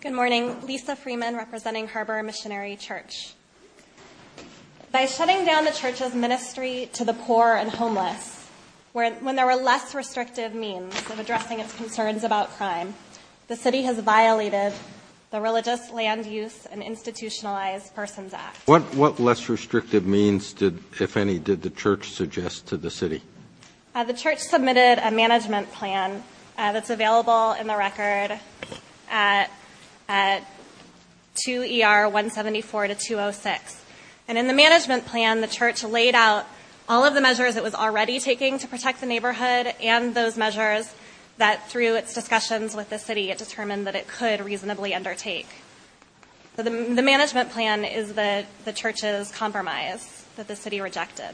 Good morning. Lisa Freeman representing Harbor Missionary Church. By shutting down the church's ministry to the poor and homeless, when there were less restrictive means of addressing its concerns about crime, the city has violated the Religious Land Use and Institutionalized What less restrictive means, if any, did the church suggest to the city? The church submitted a management plan that's available in the record at 2 ER 174-206. And in the management plan, the church laid out all of the measures it was already taking to protect the neighborhood and those measures that, through its discussions with the city, it determined that it could reasonably undertake. The management plan is the church's compromise that the city rejected.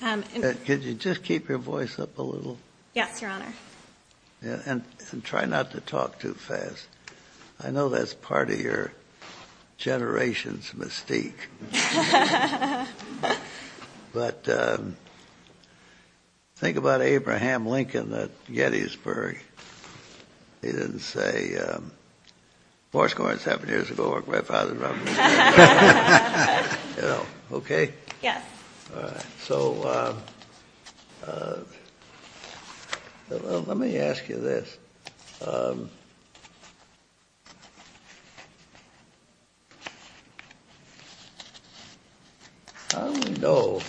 Could you just keep your voice up a little? Yes, your honor. And try not to talk too fast. I know that's part of your generation's mystique. But think about Abraham Lincoln at Gettysburg. He didn't say, um... Okay? Yes. So, let me ask you this. How do we know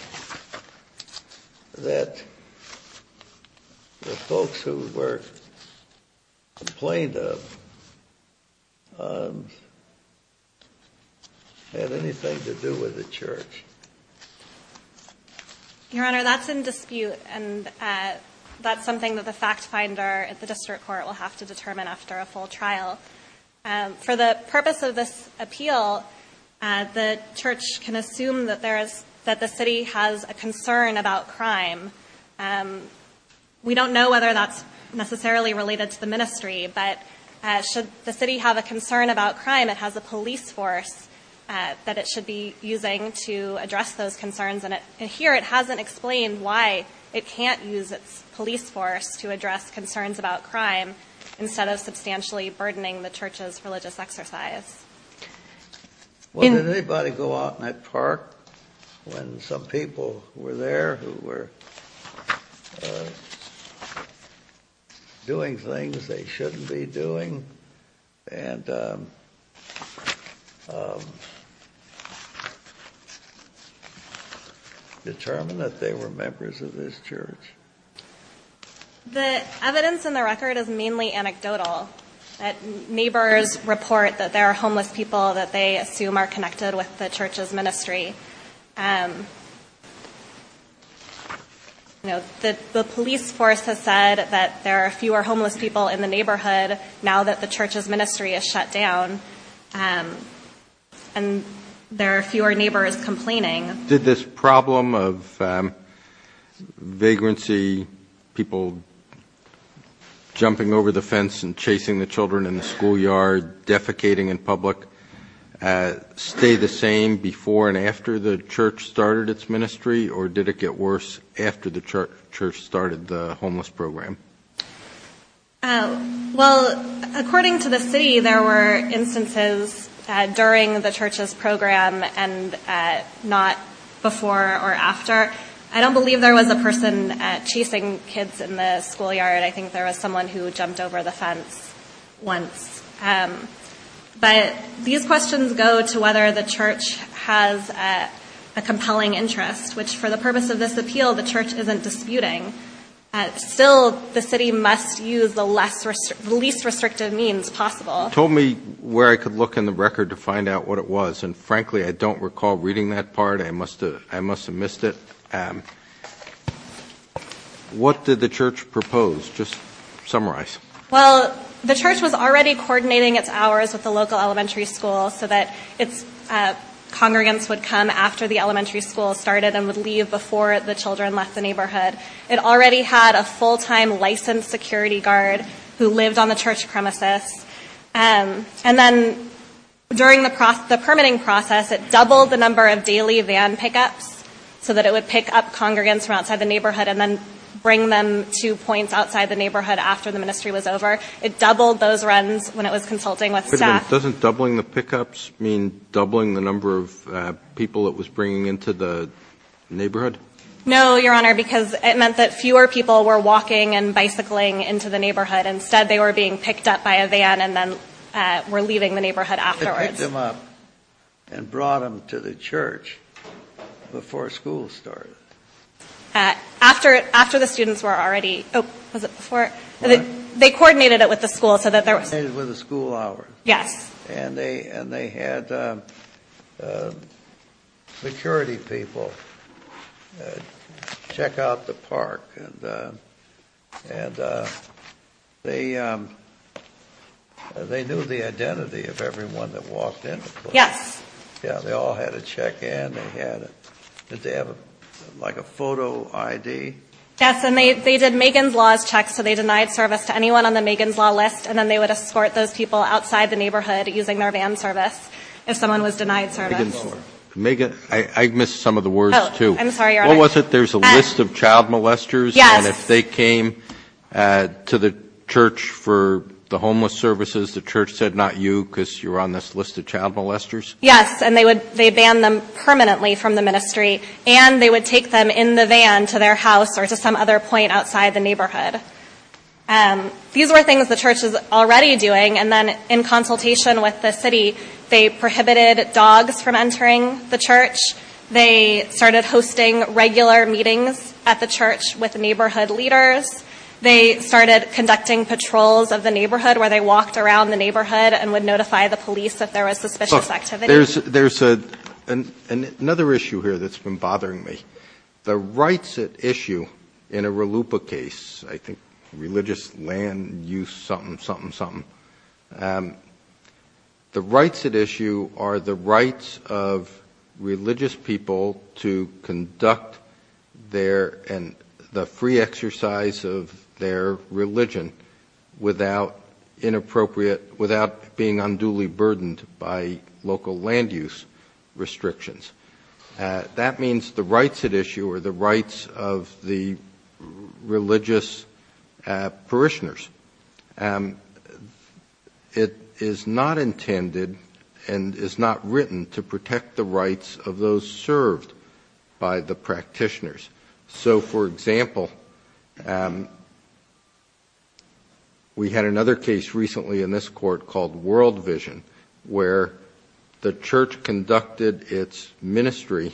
that the folks who were complained of had anything to do with the church? Your honor, that's in dispute, and that's something that the fact finder at the district court will have to determine after a full trial. For the purpose of this appeal, the church can assume that the city has a concern about crime. We don't know whether that's necessarily related to the ministry, but should the city have a concern about crime, it has a police force that it should be using to address those concerns. And here it hasn't explained why it can't use its police force to address concerns about crime instead of substantially burdening the church's religious exercise. Well, did anybody go out in that park when some people were there who were doing things they shouldn't be doing and determine that they were members of this church? The evidence in the record is mainly anecdotal. Neighbors report that there are homeless people that they assume are connected with the church's ministry. The police force has said that there are fewer homeless people in the neighborhood now that the church's ministry is shut down, and there are fewer neighbors complaining. Did this problem of vagrancy, people jumping over the fence and chasing the children in the schoolyard, defecating in public, stay the same before and after the church started its ministry, or did it get worse after the church started the homeless program? Well, according to the city, there were instances during the church's program and not before or after. I don't believe there was a person chasing kids in the schoolyard. I think there was someone who jumped over the fence once. But these questions go to whether the church has a compelling interest, which for the purpose of this appeal, the church isn't disputing. Still, the city must use the least restrictive means possible. You told me where I could look in the record to find out what it was, and frankly, I don't recall reading that part. I must have missed it. What did the church propose? Just summarize. Well, the church was already coordinating its hours with the local elementary school so that congregants would come after the elementary school started and would leave before the children left the neighborhood. It already had a full-time licensed security guard who lived on the church premises. And then during the permitting process, it doubled the number of daily van pickups so that it would pick up congregants from outside the neighborhood and then bring them to points outside the neighborhood after the ministry was over. It doubled those runs when it was consulting with staff. Doesn't doubling the pickups mean doubling the number of people it was bringing into the neighborhood? No, Your Honor, because it meant that fewer people were walking and bicycling into the neighborhood. Instead, they were being picked up by a van and then were leaving the neighborhood afterwards. It picked them up and brought them to the church before school started. After the students were already – oh, was it before? They coordinated it with the school so that there was – They coordinated it with the school hours. Yes. And they had security people check out the park. And they knew the identity of everyone that walked in. Yes. Yeah, they all had to check in. Did they have like a photo ID? Yes, and they did Megan's Law checks. So they denied service to anyone on the Megan's Law list. And then they would escort those people outside the neighborhood using their van service if someone was denied service. Megan, I missed some of the words too. Oh, I'm sorry, Your Honor. What was it? There's a list of child molesters. Yes. And if they came to the church for the homeless services, the church said not you because you're on this list of child molesters? Yes. And they banned them permanently from the ministry. And they would take them in the van to their house or to some other point outside the neighborhood. These were things the church was already doing. And then in consultation with the city, they prohibited dogs from entering the church. They started hosting regular meetings at the church with neighborhood leaders. They started conducting patrols of the neighborhood where they walked around the neighborhood and would notify the police if there was suspicious activity. There's another issue here that's been bothering me. The rights at issue in a RLUIPA case, I think Religious Land Use something, something, something. The rights at issue are the rights of religious people to conduct their free exercise of their religion without being unduly burdened by local land use restrictions. That means the rights at issue are the rights of the religious parishioners. It is not intended and is not written to protect the rights of those served by the practitioners. So, for example, we had another case recently in this court called World Vision where the church conducted its ministry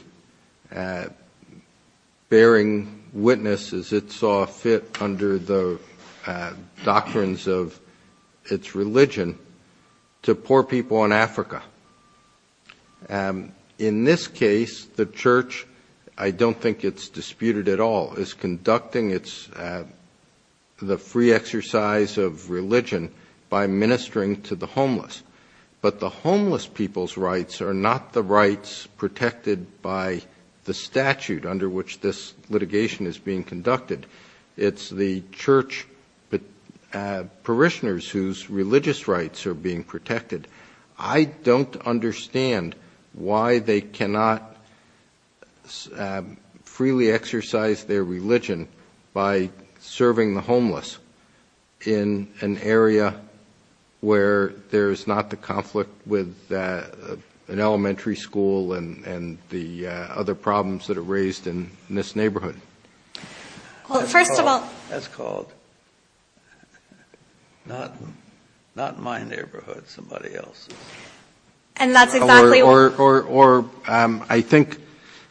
bearing witness as it saw fit under the doctrines of its religion In this case, the church, I don't think it's disputed at all, is conducting the free exercise of religion by ministering to the homeless. But the homeless people's rights are not the rights protected by the statute under which this litigation is being conducted. It's the church parishioners whose religious rights are being protected. I don't understand why they cannot freely exercise their religion by serving the homeless in an area where there is not the conflict with an elementary school and the other problems that are raised in this neighborhood. That's called, not my neighborhood, somebody else's. Or I think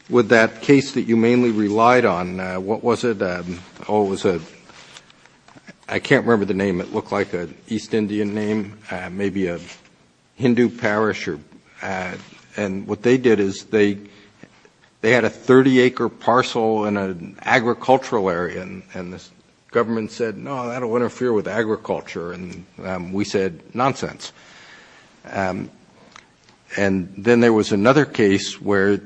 with that case that you mainly relied on, what was it? I can't remember the name. It looked like an East Indian name, maybe a Hindu parish. And what they did is they had a 30-acre parcel in an agricultural area and the government said, no, I don't want to interfere with agriculture. And we said, nonsense. And then there was another case where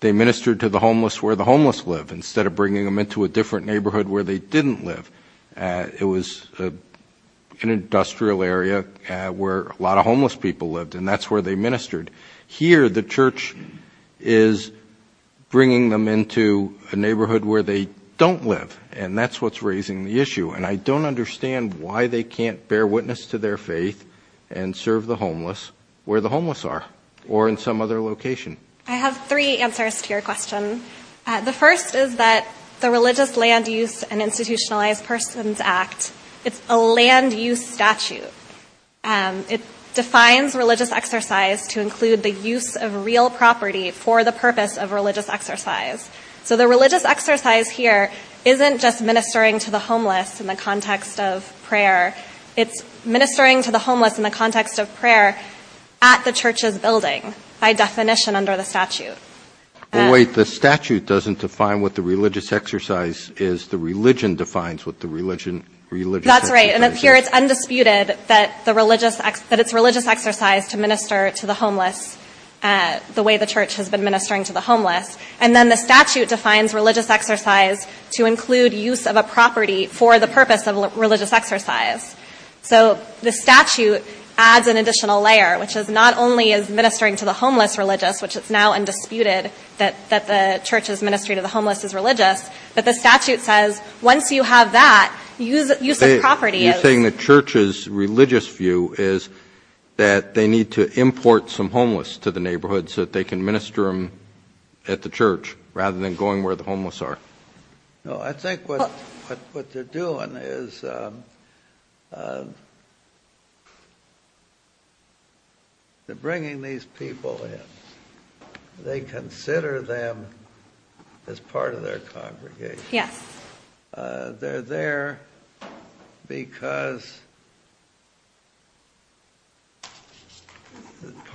they ministered to the homeless where the homeless lived instead of bringing them into a different neighborhood where they didn't live. It was an industrial area where a lot of homeless people lived and that's where they ministered. Here the church is bringing them into a neighborhood where they don't live and that's what's raising the issue. And I don't understand why they can't bear witness to their faith and serve the homeless where the homeless are or in some other location. I have three answers to your question. The first is that the Religious Land Use and Institutionalized Persons Act, it's a land use statute. It defines religious exercise to include the use of real property for the purpose of religious exercise. So the religious exercise here isn't just ministering to the homeless in the context of prayer. It's ministering to the homeless in the context of prayer at the church's building, by definition under the statute. Wait, the statute doesn't define what the religious exercise is. The religion defines what the religious exercise is. That's right, and here it's undisputed that it's religious exercise to minister to the homeless the way the church has been ministering to the homeless. And then the statute defines religious exercise to include use of a property for the purpose of religious exercise. So the statute adds an additional layer, which is not only is ministering to the homeless religious, which is now undisputed that the church is ministering to the homeless is religious, but the statute says once you have that, use the property. You're saying the church's religious view is that they need to import some homeless to the neighborhood so that they can minister them at the church rather than going where the homeless are. I think what they're doing is they're bringing these people in. They consider them as part of their congregation. They're there because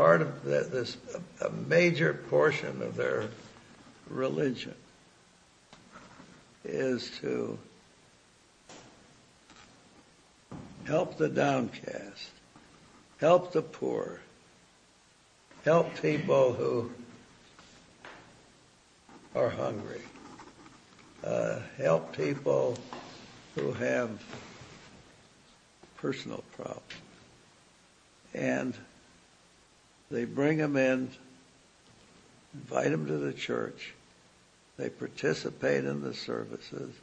a major portion of their religion is to help the downcast, help the poor, help people who are hungry, help people who have personal problems. And they bring them in, invite them to the church. They participate in the services.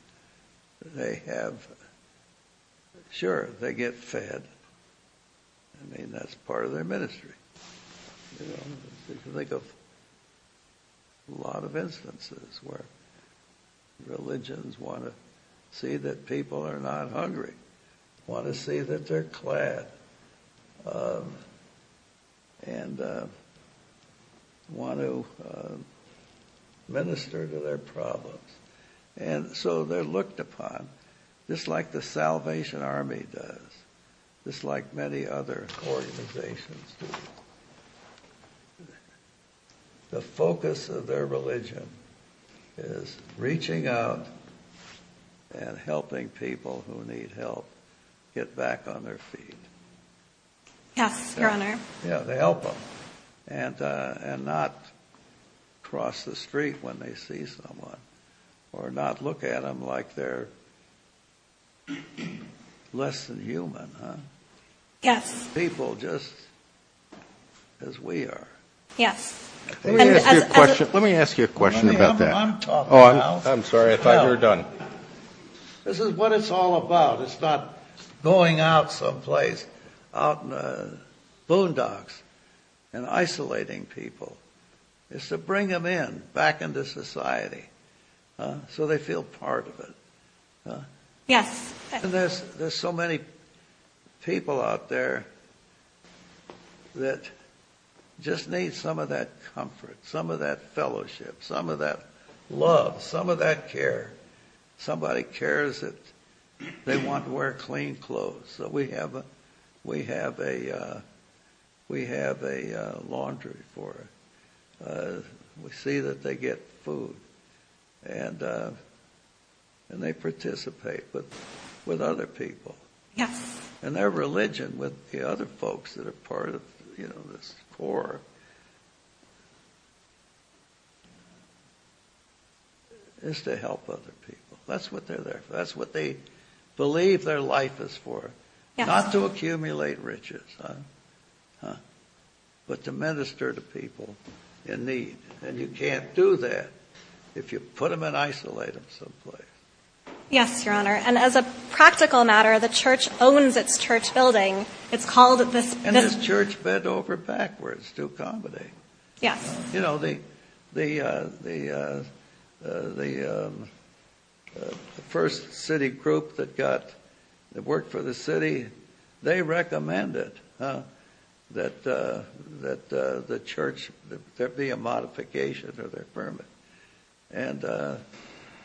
Sure, they get fed. I mean, that's part of their ministry. You can think of a lot of instances where religions want to see that people are not hungry, want to see that they're glad, and want to minister to their problems. And so they're looked upon, just like the Salvation Army does, just like many other organizations. The focus of their religion is reaching out and helping people who need help get back on their feet. Yeah, they're on there. Yeah, they help them. And not cross the street when they see someone. Or not look at them like they're less than human. Yes. People just as we are. Yes. Let me ask you a question about that. I'm talking now. I'm sorry, I thought you were done. This is what it's all about. It's not going out someplace, out in the boondocks and isolating people. It's to bring them in, back into society, so they feel part of it. Yes. And there's so many people out there that just need some of that comfort, some of that fellowship, some of that love, some of that care. Somebody cares if they want to wear clean clothes. So we have a laundry for them. We see that they get food, and they participate with other people. Yes. And their religion with the other folks that are part of this core is to help other people. That's what they're there for. That's what they believe their life is for. Not to accumulate riches, but to minister to people in need. And you can't do that if you put them in isolated someplace. Yes, Your Honor. And as a practical matter, the church owns this church building. And this church bent over backwards to accommodate. Yes. You know, the first city group that worked for the city, they recommended that there be a modification of their permit. And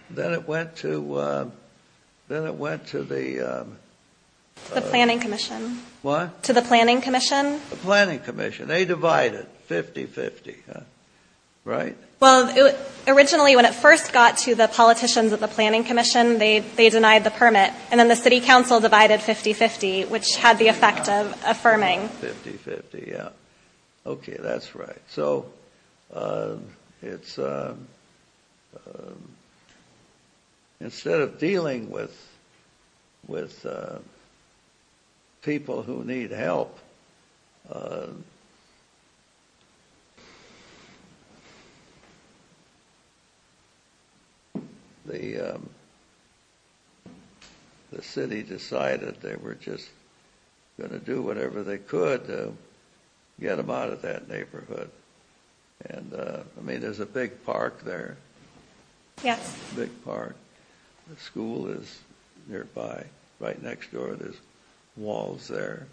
then it went to the Planning Commission. What? To the Planning Commission. The Planning Commission. They divided 50-50, right? Well, originally when it first got to the politicians of the Planning Commission, they denied the permit. And then the city council divided 50-50, which had the effect of affirming. 50-50, yes. Okay, that's right. So instead of dealing with people who need help, the city decided they were just going to do whatever they could to get them out of that neighborhood. And, I mean, there's a big park there. Yes. A big park. The school is nearby. Right next door, there's walls there.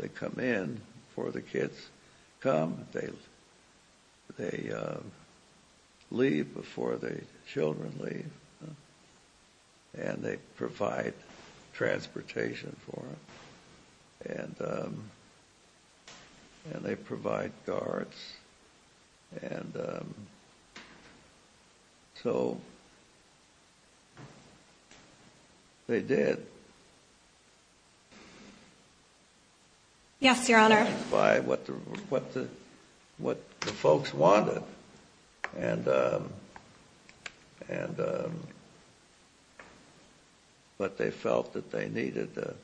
They come in before the kids come. They leave before the children leave. And they provide transportation for them. And they provide guards. So they did. Yes, Your Honor. But they felt that they needed to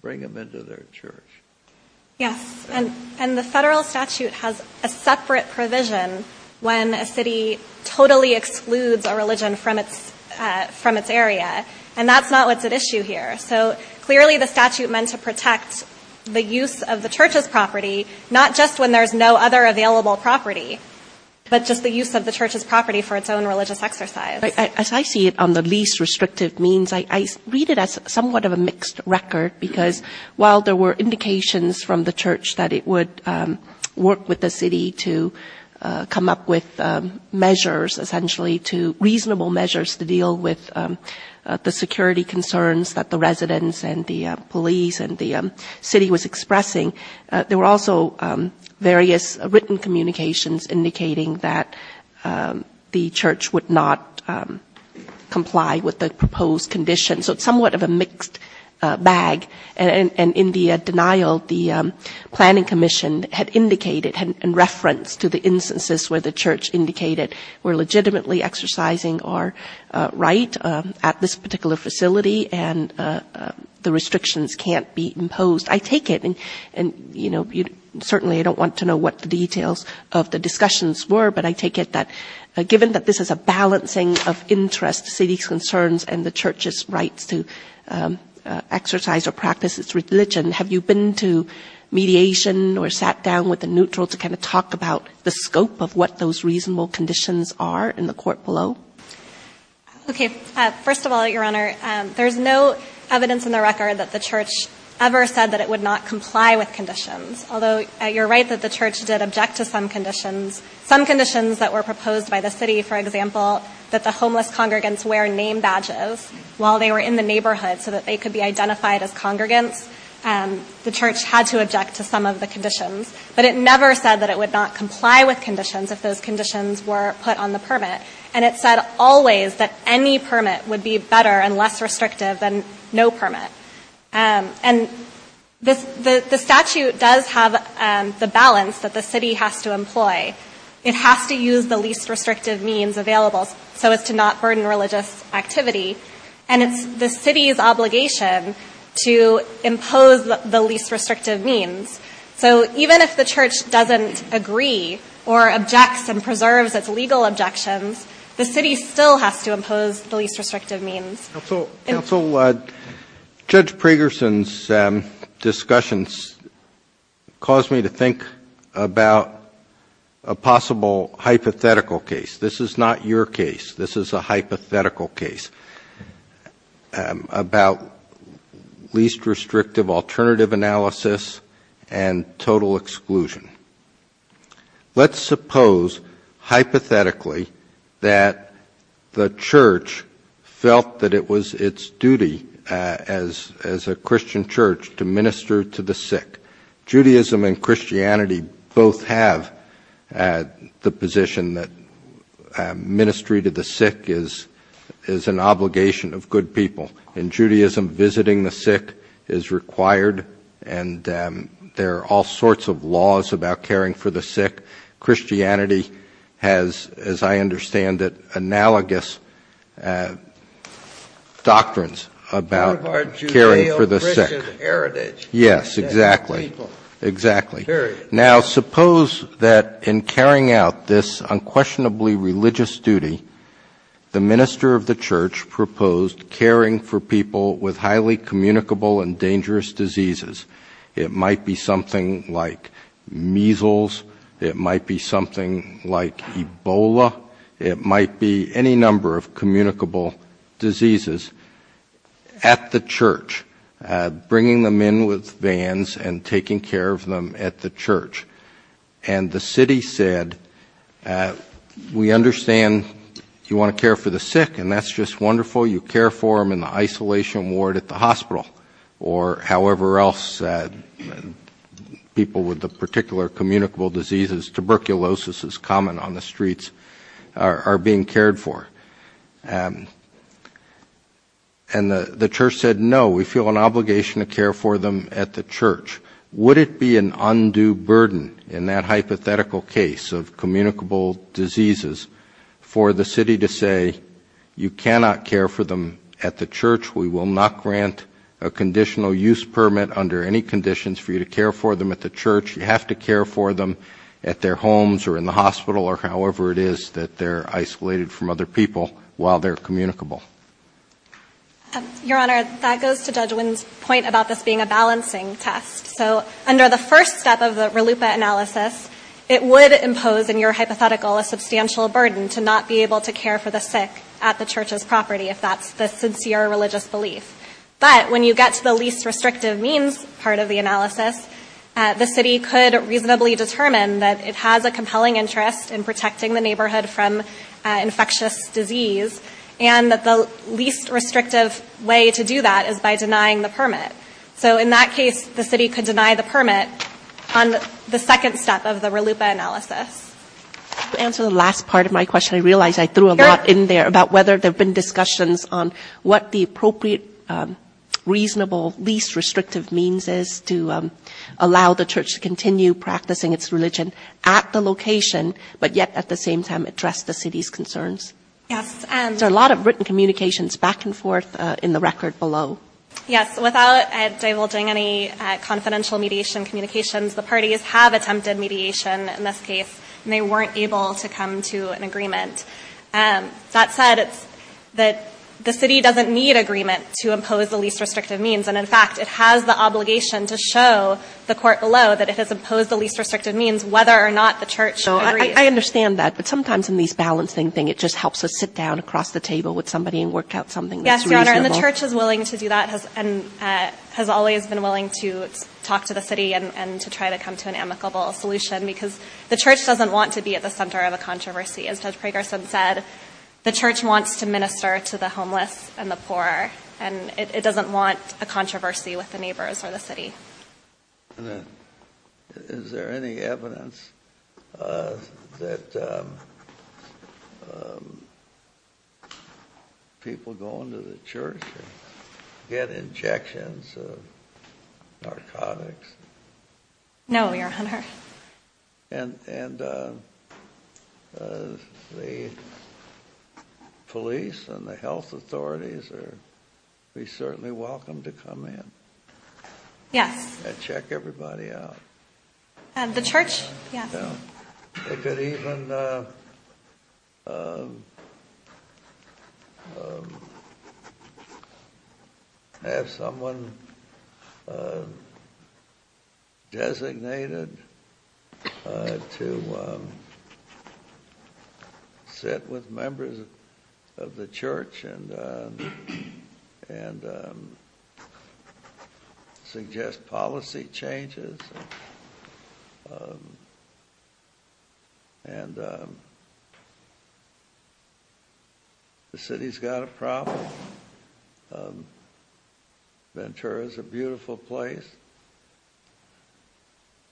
bring them into their church. Yes, and the federal statute has a separate provision when a city totally excludes a religion from its area. And that's not what's at issue here. So clearly the statute meant to protect the use of the church's property not just when there's no other available property, but just the use of the church's property for its own religious exercise. As I see it on the least restrictive means, I read it as somewhat of a mixed record, because while there were indications from the church that it would work with the city to come up with measures, essentially, reasonable measures to deal with the security concerns that the residents and the police and the city was expressing, there were also various written communications indicating that the church would not comply with the proposed conditions. So it's somewhat of a mixed bag. And in the denial, the planning commission had indicated in reference to the instances where the church indicated we're legitimately exercising our right at this particular facility and the restrictions can't be imposed. I take it, and certainly I don't want to know what the details of the discussions were, but I take it that given that this is a balancing of interest, city concerns, and the church's right to exercise or practice its religion, have you been to mediation or sat down with a neutral to kind of talk about the scope of what those reasonable conditions are in the court below? Okay. First of all, Your Honor, there's no evidence in the record that the church ever said that it would not comply with conditions. Although you're right that the church did object to some conditions. Some conditions that were proposed by the city, for example, that the homeless congregants wear name badges while they were in the neighborhood so that they could be identified as congregants, the church had to object to some of the conditions. But it never said that it would not comply with conditions if those conditions were put on the permit. And it said always that any permit would be better and less restrictive than no permit. And the statute does have the balance that the city has to employ. It has to use the least restrictive means available so as to not burden religious activity. And the city's obligation to impose the least restrictive means. So even if the church doesn't agree or objects and preserves its legal objections, the city still has to impose the least restrictive means. Counsel, Judge Pregerson's discussions caused me to think about a possible hypothetical case. This is not your case. This is a hypothetical case about least restrictive alternative analysis and total exclusion. Let's suppose hypothetically that the church felt that it was its duty as a Christian church to minister to the sick. Judaism and Christianity both have the position that ministry to the sick is an obligation of good people. In Judaism, visiting the sick is required and there are all sorts of laws about caring for the sick. Christianity has, as I understand it, analogous doctrines about caring for the sick. Yes, exactly. Now suppose that in carrying out this unquestionably religious duty, the minister of the church proposed caring for people with highly communicable and dangerous diseases. It might be something like measles. It might be something like Ebola. It might be any number of communicable diseases at the church, bringing them in with vans and taking care of them at the church. And the city said, we understand you want to care for the sick, and that's just wonderful. You care for them in the isolation ward at the hospital, or however else people with the particular communicable diseases, tuberculosis is common on the streets, are being cared for. And the church said, no, we feel an obligation to care for them at the church. Would it be an undue burden in that hypothetical case of communicable diseases for the city to say, you cannot care for them at the church. We will not grant a conditional use permit under any conditions for you to care for them at the church. You have to care for them at their homes or in the hospital or however it is that they're isolated from other people while they're communicable. Your Honor, that goes to Judge Wynn's point about this being a balancing test. So under the first step of the RLUIPA analysis, it would impose in your hypothetical a substantial burden to not be able to care for the sick at the church's property, if that's the sincere religious belief. But when you get to the least restrictive means part of the analysis, the city could reasonably determine that it has a compelling interest in protecting the neighborhood from infectious disease, and that the least restrictive way to do that is by denying the permit. So in that case, the city could deny the permit on the second step of the RLUIPA analysis. To answer the last part of my question, I realized I threw a lot in there about whether there have been discussions on what the appropriate, reasonable, least restrictive means is to allow the church to continue practicing its religion at the location, but yet at the same time address the city's concerns. There are a lot of written communications back and forth in the record below. Yes, without divulging any confidential mediation communications, the parties have attempted mediation in this case, and they weren't able to come to an agreement. That said, the city doesn't need agreement to impose the least restrictive means, and in fact, it has the obligation to show the court below that it has imposed the least restrictive means, whether or not the church agrees. I understand that, but sometimes in these balancing things, it just helps us sit down across the table with somebody and work out something. Yes, Your Honor, and the church is willing to do that and has always been willing to talk to the city and to try to come to an amicable solution, because the church doesn't want to be at the center of a controversy. As Judge Fragerson said, the church wants to minister to the homeless and the poor, and it doesn't want a controversy with the neighbors or the city. Is there any evidence that people go into the church and get injections of narcotics? No, Your Honor. And the police and the health authorities are certainly welcome to come in? Yes. And check everybody out? The church, yes. If it even has someone designated to sit with members of the church and suggest policy changes, and the city's got a problem, Ventura's a beautiful place,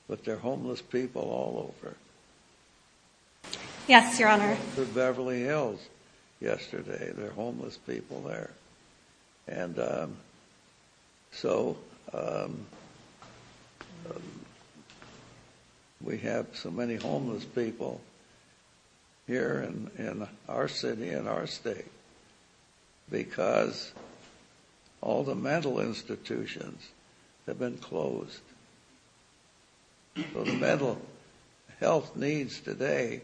but there are homeless people all over. Yes, Your Honor. The Beverly Hills yesterday, there are homeless people there. And so we have so many homeless people here in our city and our state because all the mental institutions have been closed. The mental health needs today,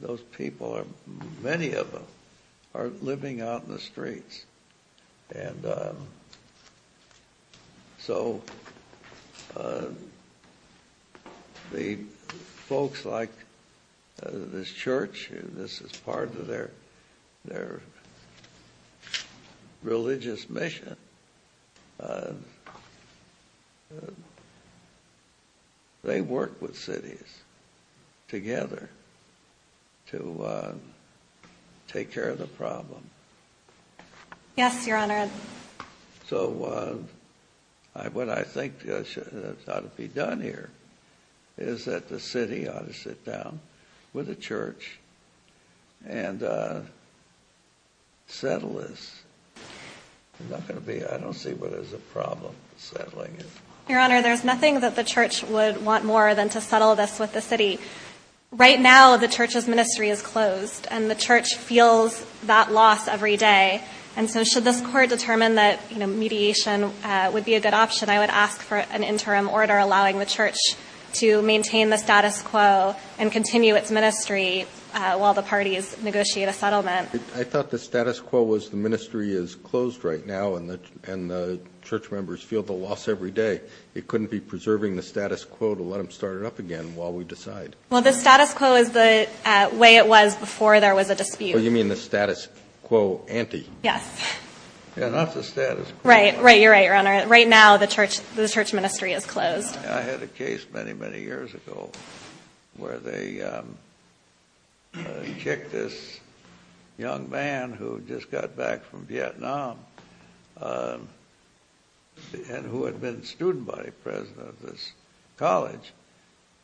those people, many of them, are living out in the streets. And so the folks like this church, this is part of their religious mission, and they work with cities together to take care of the problem. Yes, Your Honor. So what I think ought to be done here is that the city ought to sit down with the church and settle this. I don't see where there's a problem settling it. Your Honor, there's nothing that the church would want more than to settle this with the city. Right now, the church's ministry is closed, and the church feels that loss every day. And so should this court determine that mediation would be a good option, I would ask for an interim order allowing the church to maintain the status quo and continue its ministry while the parties negotiate a settlement. I thought the status quo was the ministry is closed right now, and the church members feel the loss every day. It couldn't be preserving the status quo to let them start it up again while we decide. Well, the status quo is the way it was before there was a dispute. Oh, you mean the status quo ante? Not the status quo. Right, you're right, Your Honor. Right now, the church ministry is closed. I had a case many, many years ago where they kicked this young man who just got back from Vietnam and who had been student body president of this college.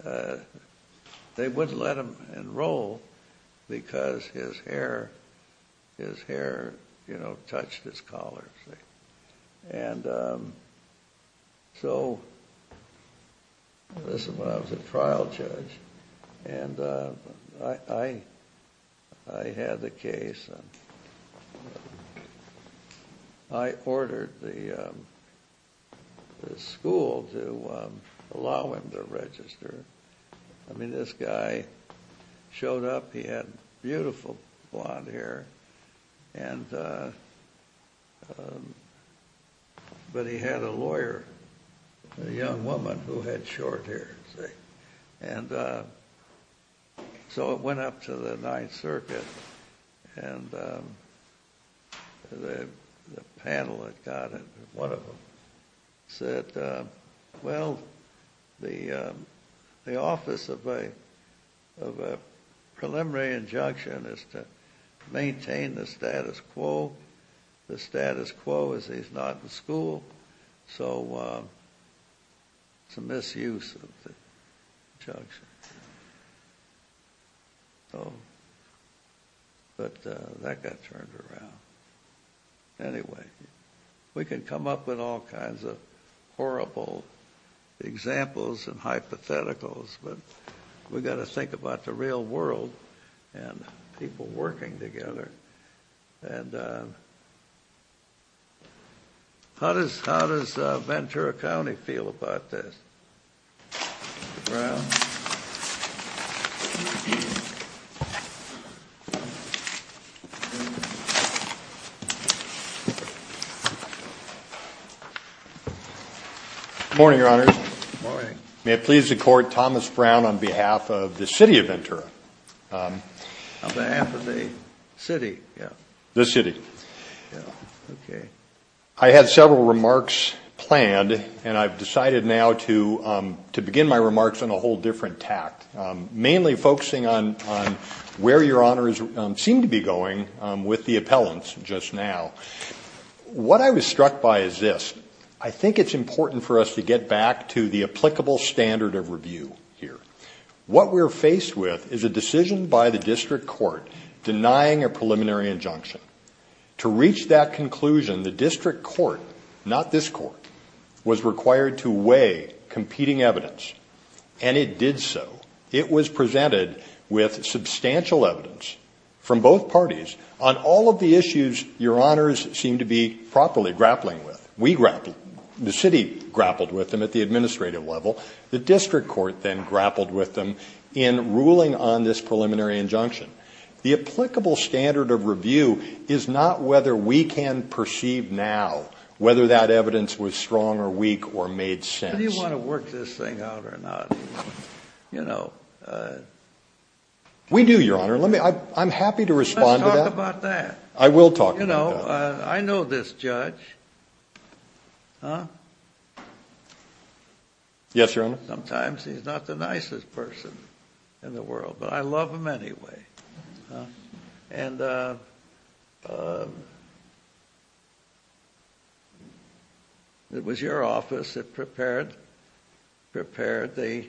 They wouldn't let him enroll because his hair, you know, touched his collar. And so this is when I was a trial judge, and I had the case. I ordered the school to allow him to register. I mean, this guy showed up. He had beautiful blonde hair. But he had a lawyer, a young woman who had short hair. And so it went up to the Ninth Circuit, and the panel that got it, one of them, said, well, the office of a preliminary injunction is to maintain the status quo. The status quo is he's not in school. So it's a misuse of the injunction. But that got turned around. Anyway, we can come up with all kinds of horrible examples and hypotheticals, but we've got to think about the real world and people working together. And how does Ventura County feel about this? Good morning, Your Honors. May it please the Court, Thomas Brown on behalf of the city of Ventura. On behalf of the city. The city. I had several remarks planned, and I've decided now to begin my remarks on a whole different tack, mainly focusing on where Your Honors seem to be going with the appellants just now. What I was struck by is this. I think it's important for us to get back to the applicable standard of review here. What we're faced with is a decision by the district court denying a preliminary injunction. To reach that conclusion, the district court, not this court, was required to weigh competing evidence. And it did so. It was presented with substantial evidence from both parties on all of the issues Your Honors seem to be properly grappling with. The city grappled with them at the administrative level. The district court then grappled with them in ruling on this preliminary injunction. The applicable standard of review is not whether we can perceive now whether that evidence was strong or weak or made sense. Do you want to work this thing out or not? You know. We do, Your Honor. I'm happy to respond to that. Talk about that. I will talk about that. You know, I know this judge. Huh? Yes, Your Honor. Sometimes he's not the nicest person in the world, but I love him anyway. And it was your office that prepared the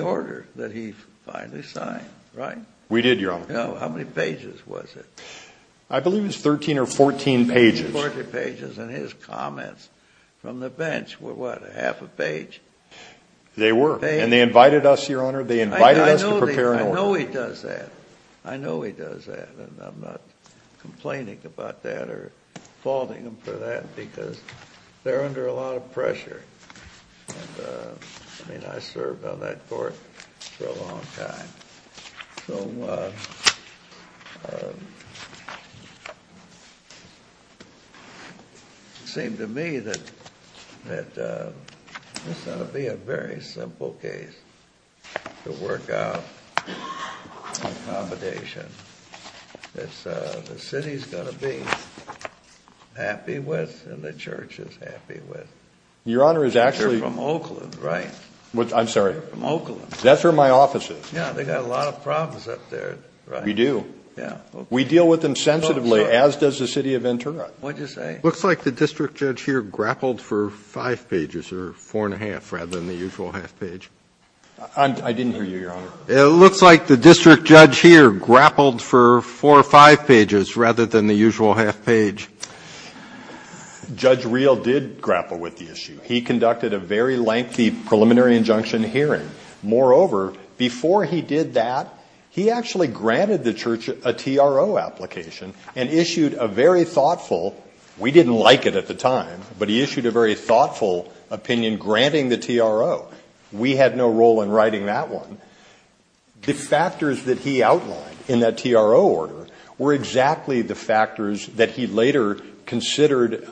order that he finally signed, right? We did, Your Honor. How many pages was it? I believe it was 13 or 14 pages. 14 pages. And his comments from the bench were, what, half a page? They were. I know he does that. I know he does that. And I'm not complaining about that or faulting him for that because they're under a lot of pressure. And, I mean, I served on that court for a long time. So it seems to me that this is going to be a very simple case to work out in accommodation. The city is going to be happy with and the church is happy with. Your Honor is actually. You're from Oakland, right? I'm sorry. You're from Oakland. That's where my office is. Yeah, they've got a lot of problems up there. We do. Yeah. We deal with them sensitively, as does the city of Interim. What did you say? It looks like the district judge here grappled for five pages or four and a half rather than the usual half page. I didn't hear you, Your Honor. It looks like the district judge here grappled for four or five pages rather than the usual half page. Judge Reel did grapple with the issue. He conducted a very lengthy preliminary injunction hearing. Moreover, before he did that, he actually granted the church a TRO application and issued a very thoughtful. We didn't like it at the time, but he issued a very thoughtful opinion granting the TRO. We had no role in writing that one. The factors that he outlined in that TRO order were exactly the factors that he later considered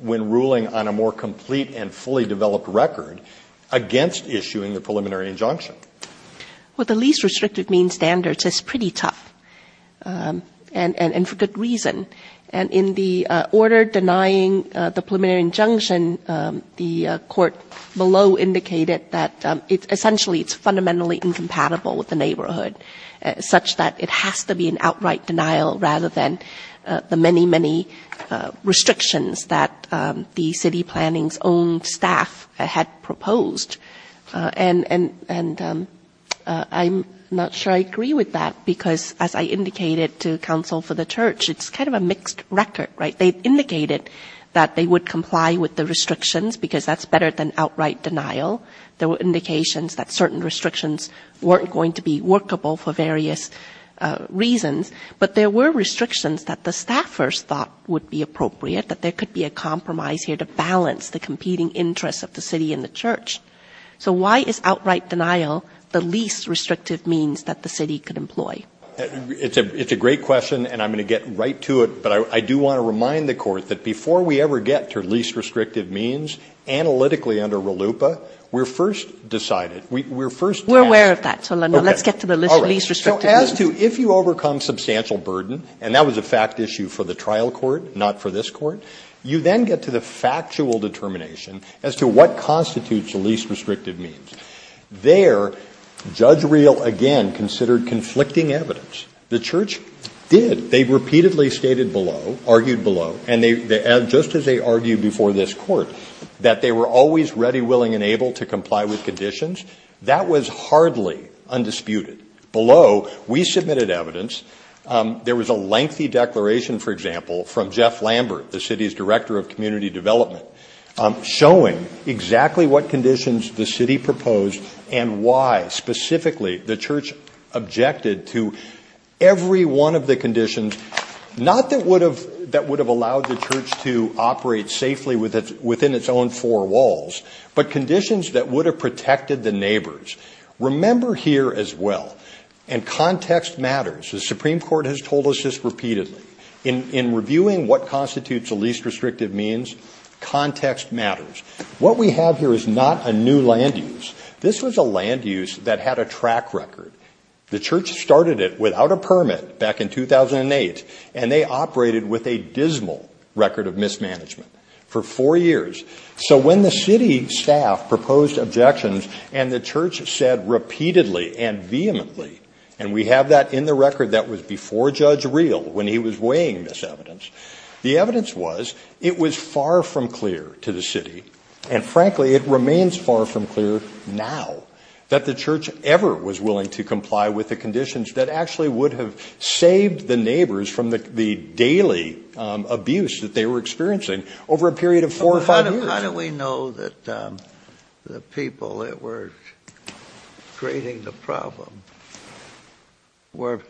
when ruling on a more complete and fully developed record against issuing the preliminary injunction. Well, the least restricted mean standards is pretty tough and for good reason. In the order denying the preliminary injunction, the court below indicated that essentially it's fundamentally incompatible with the neighborhood such that it has to be an outright denial rather than the many, many restrictions that the city planning's own staff had proposed. I'm not sure I agree with that because as I indicated to counsel for the church, it's kind of a mixed record. They indicated that they would comply with the restrictions because that's better than outright denial. There were indications that certain restrictions weren't going to be workable for various reasons, but there were restrictions that the staffers thought would be appropriate, that there could be a compromise here to balance the competing interests of the city and the church. So why is outright denial the least restrictive means that the city could employ? It's a great question, and I'm going to get right to it, but I do want to remind the court that before we ever get to least restrictive means, analytically under RLUIPA, we're first decided. We're aware of that, so let's get to the least restrictive means. As to if you overcome substantial burden, and that was a fact issue for the trial court, not for this court, you then get to the factual determination as to what constitutes least restrictive means. There, Judge Reel again considered conflicting evidence. The church did. They repeatedly stated below, argued below, and just as they argued before this court, that they were always ready, willing, and able to comply with conditions. That was hardly undisputed. Below, we submitted evidence. There was a lengthy declaration, for example, from Jeff Lambert, the city's director of community development, showing exactly what conditions the city proposed and why. Specifically, the church objected to every one of the conditions, not that would have allowed the church to operate safely within its own four walls, but conditions that would have protected the neighbors. Remember here as well, and context matters. The Supreme Court has told us this repeatedly. In reviewing what constitutes the least restrictive means, context matters. What we have here is not a new land use. This was a land use that had a track record. The church started it without a permit back in 2008, and they operated with a dismal record of mismanagement for four years. So when the city staff proposed objections, and the church said repeatedly and vehemently, and we have that in the record that was before Judge Real when he was weighing this evidence, the evidence was it was far from clear to the city, and frankly, it remains far from clear now, that the church ever was willing to comply with the conditions that actually would have saved the neighbors from the daily abuse that they were experiencing over a period of four or five years. How do we know that the people that were creating the problem were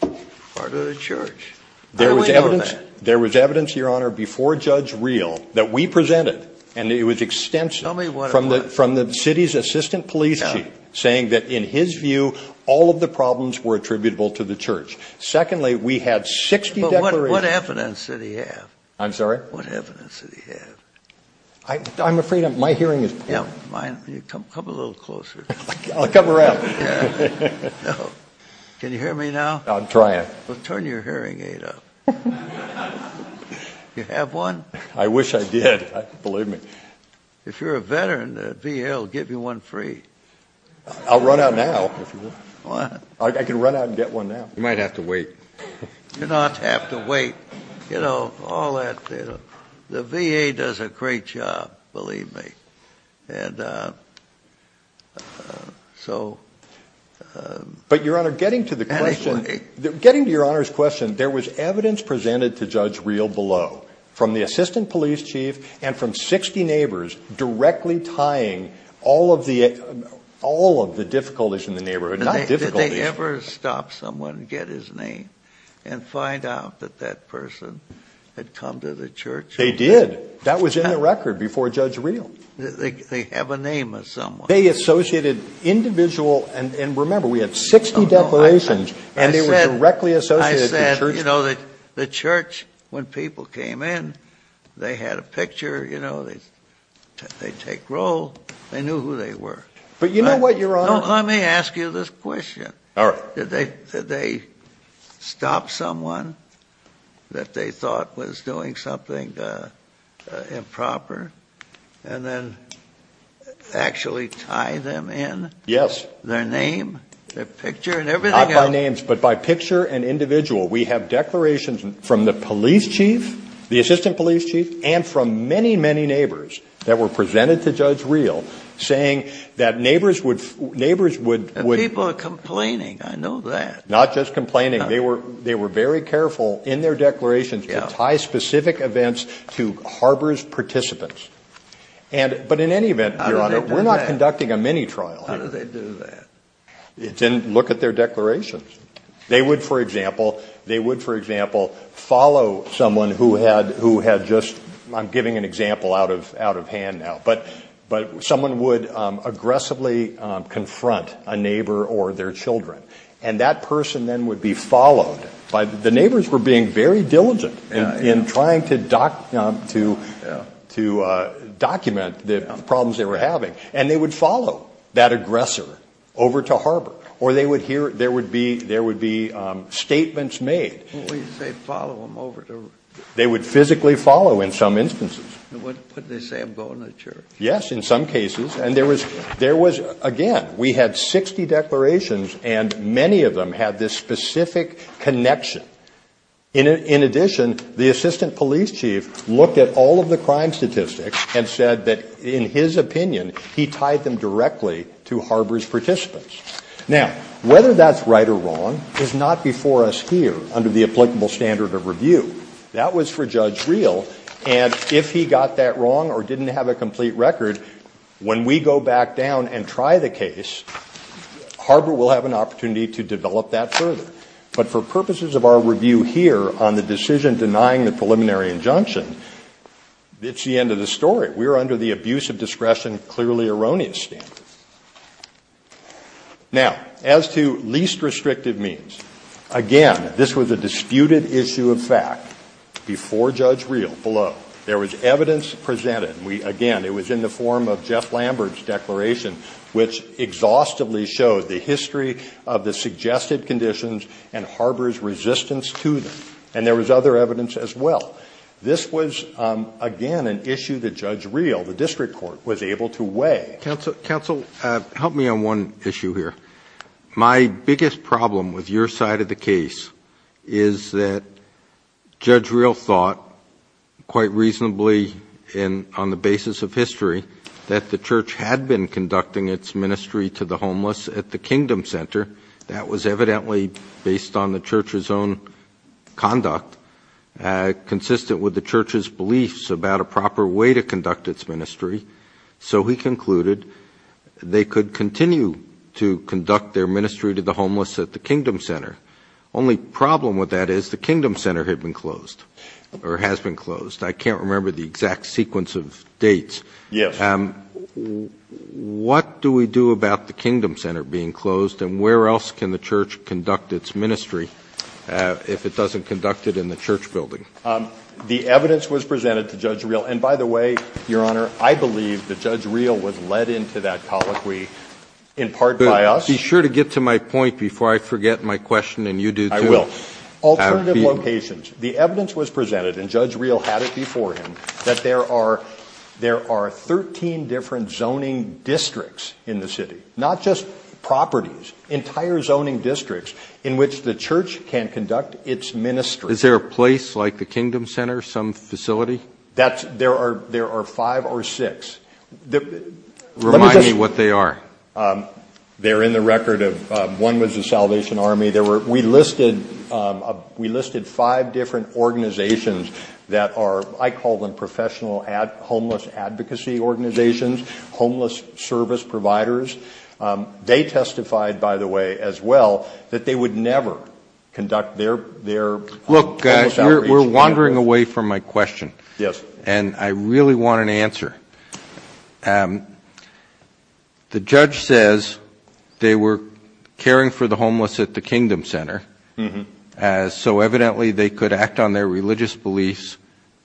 part of the church? There was evidence, Your Honor, before Judge Real that we presented, and it was extensive from the city's assistant police chief saying that in his view, all of the problems were attributable to the church. Secondly, we had 60 declarations. What evidence did he have? I'm sorry? What evidence did he have? I'm afraid my hearing is impaired. Come a little closer. I'll come around. Can you hear me now? I'm trying. Well, turn your hearing aid up. You have one? I wish I did. Believe me. If you're a veteran, the VA will give you one free. I'll run out now. I can run out and get one now. You might have to wait. You don't have to wait. You know, all that. The VA does a great job, believe me. But, Your Honor, getting to the question, getting to Your Honor's question, there was evidence presented to Judge Real below from the assistant police chief and from 60 neighbors directly tying all of the difficulties in the neighborhood, not difficulties. Did they ever stop someone and get his name and find out that that person had come to the church? They did. That was in the record before Judge Real. They have a name of someone. They associated individual. And remember, we had 60 declarations, and they were directly associated. The church, when people came in, they had a picture. They'd take roll. They knew who they were. But you know what, Your Honor? Let me ask you this question. Did they stop someone that they thought was doing something improper and then actually tie them in? Yes. Their name, their picture, and everything else? Not by names, but by picture and individual. We have declarations from the police chief, the assistant police chief, and from many, many neighbors that were presented to Judge Real saying that neighbors would- And people are complaining. I know that. Not just complaining. They were very careful in their declarations to tie specific events to harbor's participants. But in any event, Your Honor, we're not conducting a mini-trial. How did they do that? They didn't look at their declarations. They would, for example, follow someone who had just- I'm giving an example out of hand now. But someone would aggressively confront a neighbor or their children, and that person then would be followed. The neighbors were being very diligent in trying to document the problems they were having, and they would follow that aggressor over to harbor, or there would be statements made. They'd follow them over to- They would physically follow in some instances. Put the same bone in the church. Yes, in some cases. And there was- Again, we had 60 declarations, and many of them had this specific connection. In addition, the assistant police chief looked at all of the crime statistics and said that, in his opinion, he tied them directly to harbor's participants. Now, whether that's right or wrong is not before us here under the applicable standard of review. That was for Judge Real, and if he got that wrong or didn't have a complete record, when we go back down and try the case, harbor will have an opportunity to develop that further. But for purposes of our review here on the decision denying the preliminary injunction, it's the end of the story. We are under the abuse of discretion clearly erroneous standard. Now, as to least restrictive means, again, this was a disputed issue of fact. Before Judge Real, below, there was evidence presented. which exhaustively showed the history of the suggested conditions and harbor's resistance to them. And there was other evidence as well. This was, again, an issue that Judge Real, the district court, was able to weigh. Counsel, help me on one issue here. My biggest problem with your side of the case is that Judge Real thought, quite reasonably, on the basis of history, that the church had been conducting its ministry to the homeless at the Kingdom Center. That was evidently based on the church's own conduct, consistent with the church's beliefs about a proper way to conduct its ministry. So he concluded they could continue to conduct their ministry to the homeless at the Kingdom Center. Only problem with that is the Kingdom Center had been closed, or has been closed. I can't remember the exact sequence of dates. Yes. What do we do about the Kingdom Center being closed, and where else can the church conduct its ministry if it doesn't conduct it in the church building? The evidence was presented to Judge Real. And, by the way, Your Honor, I believe that Judge Real was led into that colloquy in part by us. Be sure to get to my point before I forget my question, and you do too. I will. Alternative locations. The evidence was presented, and Judge Real had it before him, that there are 13 different zoning districts in the city, not just properties, entire zoning districts in which the church can conduct its ministry. Is there a place like the Kingdom Center, some facility? There are five or six. Remind me what they are. They're in the record of one was the Salvation Army. We listed five different organizations that are, I call them professional homeless advocacy organizations, homeless service providers. They testified, by the way, as well, that they would never conduct their church outreach. Look, guys, we're wandering away from my question. Yes. And I really want an answer. The judge says they were caring for the homeless at the Kingdom Center, so evidently they could act on their religious beliefs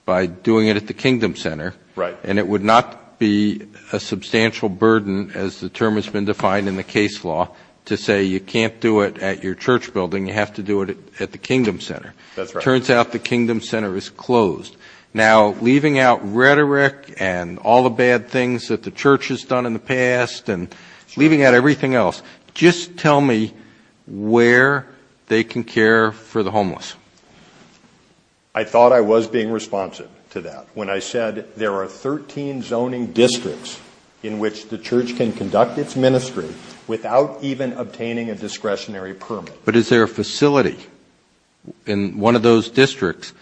by doing it at the Kingdom Center. Right. And it would not be a substantial burden, as the term has been defined in the case law, to say you can't do it at your church building, you have to do it at the Kingdom Center. That's right. It turns out the Kingdom Center is closed. Now, leaving out rhetoric and all the bad things that the church has done in the past and leaving out everything else, just tell me where they can care for the homeless. I thought I was being responsive to that when I said there are 13 zoning districts in which the church can conduct its ministry without even obtaining a discretionary permit. But is there a facility in one of those districts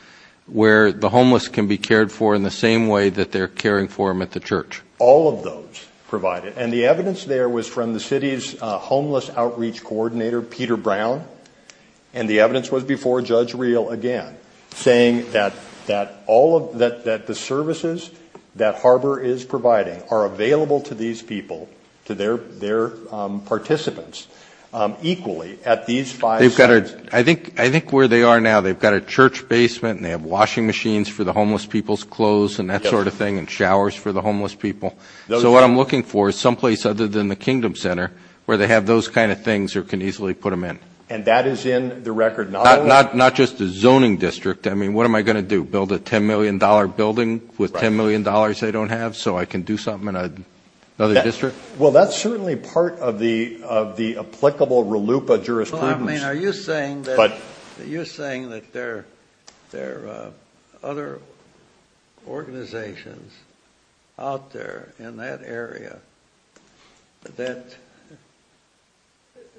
where the homeless can be cared for in the same way that they're caring for them at the church? All of those provide it. And the evidence there was from the city's Homeless Outreach Coordinator, Peter Brown, and the evidence was before Judge Real again, saying that the services that Harbor is providing are available to these people, to their participants, equally at these five sites. I think where they are now, they've got a church basement and they have washing machines for the homeless people's clothes and that sort of thing and showers for the homeless people. So what I'm looking for is someplace other than the Kingdom Center where they have those kind of things or can easily put them in. And that is in the record? Not just a zoning district. I mean, what am I going to do, build a $10 million building with $10 million I don't have so I can do something in another district? Well, that's certainly part of the applicable RLUIPA jurisprudence. Are you saying that there are other organizations out there in that area that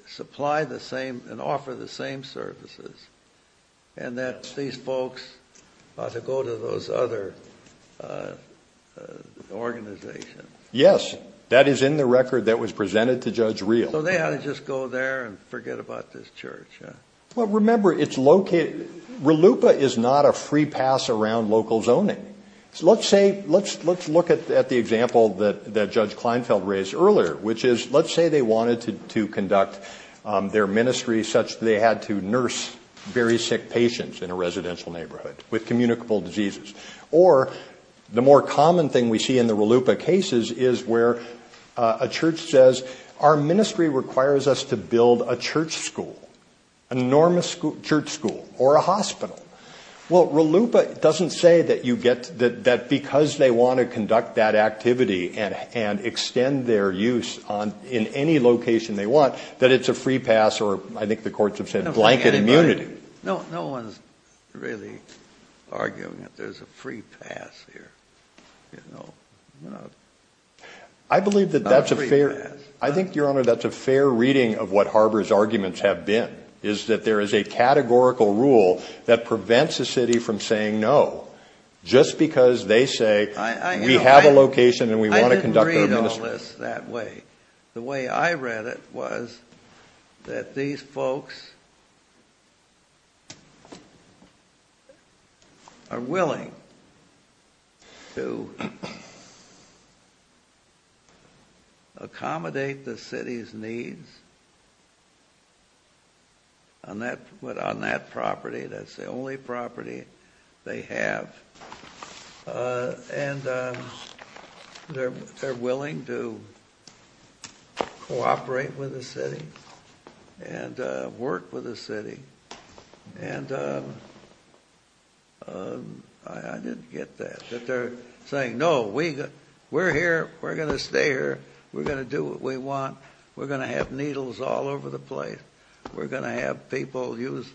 supply the same and offer the same services and that these folks ought to go to those other organizations? Yes, that is in the record that was presented to Judge Real. So they ought to just go there and forget about this church? Well, remember, RLUIPA is not a free pass around local zoning. Let's look at the example that Judge Kleinfeld raised earlier, which is let's say they wanted to conduct their ministry such that they had to nurse very sick patients in a residential neighborhood with communicable diseases. Or the more common thing we see in the RLUIPA cases is where a church says, our ministry requires us to build a church school, an enormous church school, or a hospital. Well, RLUIPA doesn't say that because they want to conduct that activity and extend their use in any location they want that it's a free pass or I think the courts have said blanket immunity. No one's really arguing that there's a free pass here. I think, Your Honor, that's a fair reading of what Harbor's arguments have been, is that there is a categorical rule that prevents a city from saying no. Just because they say we have a location and we want to conduct our ministry. I didn't read all this that way. The way I read it was that these folks are willing to accommodate the city's needs on that property that's the only property they have. And they're willing to cooperate with the city and work with the city. And I didn't get that. That they're saying, no, we're here, we're going to stay here, we're going to do what we want, we're going to have needles all over the place, we're going to have people use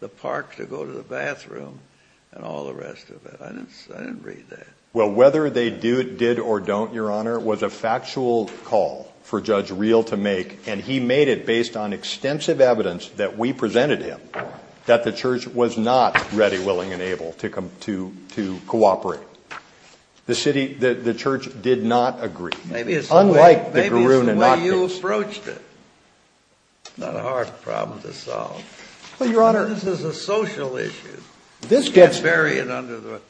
the park to go to the bathroom, and all the rest of it. I didn't read that. Well, whether they did or don't, Your Honor, was a factual call for Judge Reel to make and he made it based on extensive evidence that we presented him that the church was not ready, willing, and able to cooperate. The church did not agree. Maybe it's the way you approached it. Not a hard problem to solve. Well, Your Honor, this is a social issue. This gets buried under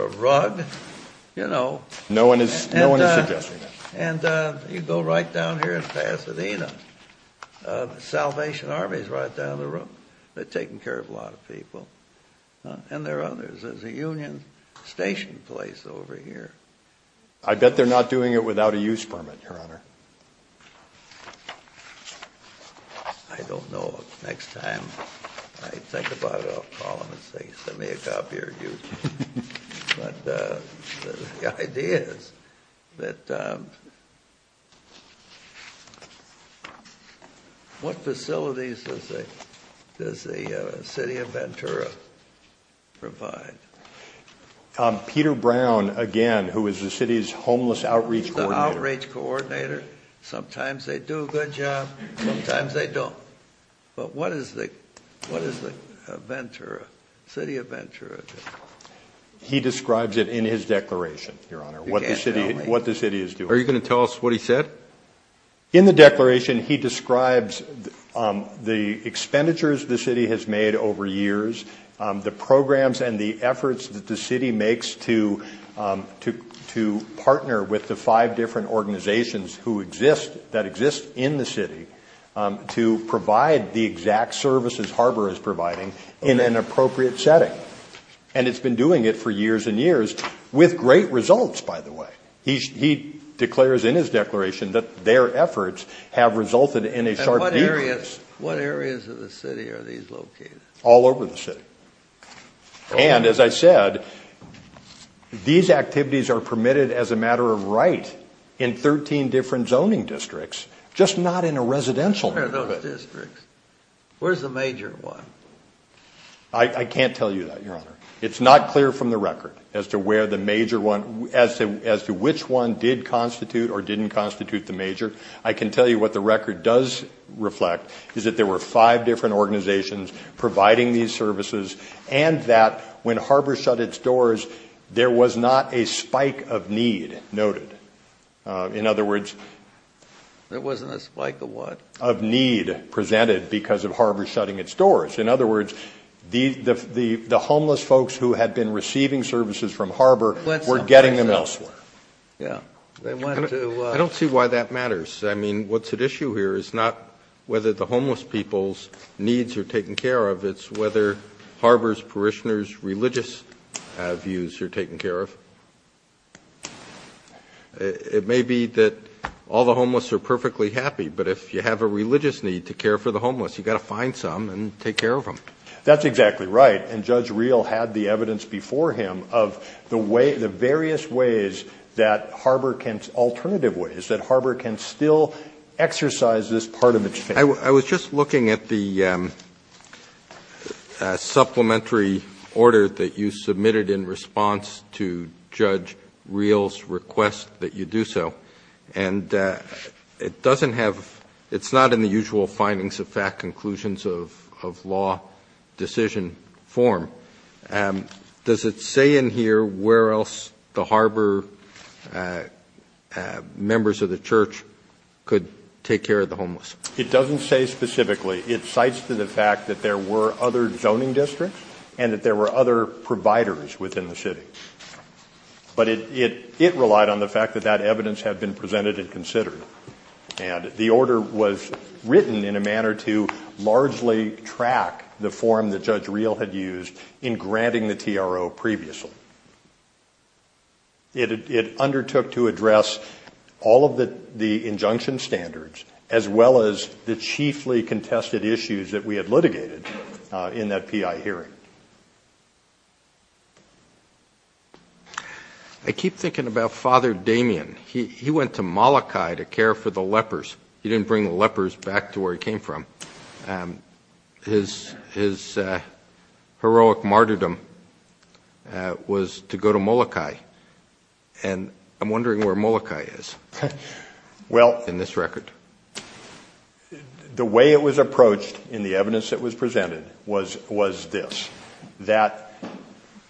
a rug, you know. No one is suggesting that. And you go right down here in Pasadena, Salvation Army is right down the road. They're taking care of a lot of people. And there are others. There's a Union Station place over here. I bet they're not doing it without a use permit, Your Honor. I don't know. Next time I think about it, I'll call them and say, send me a copy or a use permit. The idea is that what facilities does the city of Ventura provide? Peter Brown, again, who is the city's homeless outreach coordinator. The outreach coordinator. Sometimes they do a good job. Sometimes they don't. But what is the Ventura, city of Ventura? He describes it in his declaration, Your Honor, what the city is doing. Are you going to tell us what he said? In the declaration, he describes the expenditures the city has made over years, the programs and the efforts that the city makes to partner with the five different organizations that exist in the city to provide the exact services Harbor is providing in an appropriate setting. And it's been doing it for years and years with great results, by the way. He declares in his declaration that their efforts have resulted in a stark difference. And what areas of the city are these located? All over the city. And, as I said, these activities are permitted as a matter of right in 13 different zoning districts, just not in a residential district. Where's the major one? I can't tell you that, Your Honor. It's not clear from the record as to which one did constitute or didn't constitute the major. I can tell you what the record does reflect is that there were five different organizations providing these services and that when Harbor shut its doors, there was not a spike of need noted. In other words, there wasn't a spike of what? Of need presented because of Harbor shutting its doors. In other words, the homeless folks who had been receiving services from Harbor were getting them elsewhere. I don't see why that matters. I mean, what's at issue here is not whether the homeless people's needs are taken care of, it's whether Harbor's parishioners' religious views are taken care of. It may be that all the homeless are perfectly happy, but if you have a religious need to care for the homeless, you've got to find some and take care of them. That's exactly right. And Judge Reel had the evidence before him of the various ways that Harbor can, alternative ways, that Harbor can still exercise this part of its power. I was just looking at the supplementary order that you submitted in response to Judge Reel's request that you do so. And it doesn't have, it's not in the usual findings of fact conclusions of law decision form. Does it say in here where else the Harbor members of the church could take care of the homeless? It doesn't say specifically. It cites to the fact that there were other zoning districts and that there were other providers within the city. But it relied on the fact that that evidence had been presented and considered. And the order was written in a manner to largely track the form that Judge Reel had used in granting the TRO previously. It undertook to address all of the injunction standards, as well as the chiefly contested issues that we had litigated in that PI hearing. I keep thinking about Father Damien. He went to Molokai to care for the lepers. He didn't bring the lepers back to where he came from. His heroic martyrdom was to go to Molokai. And I'm wondering where Molokai is in this record. The way it was approached in the evidence that was presented was this. That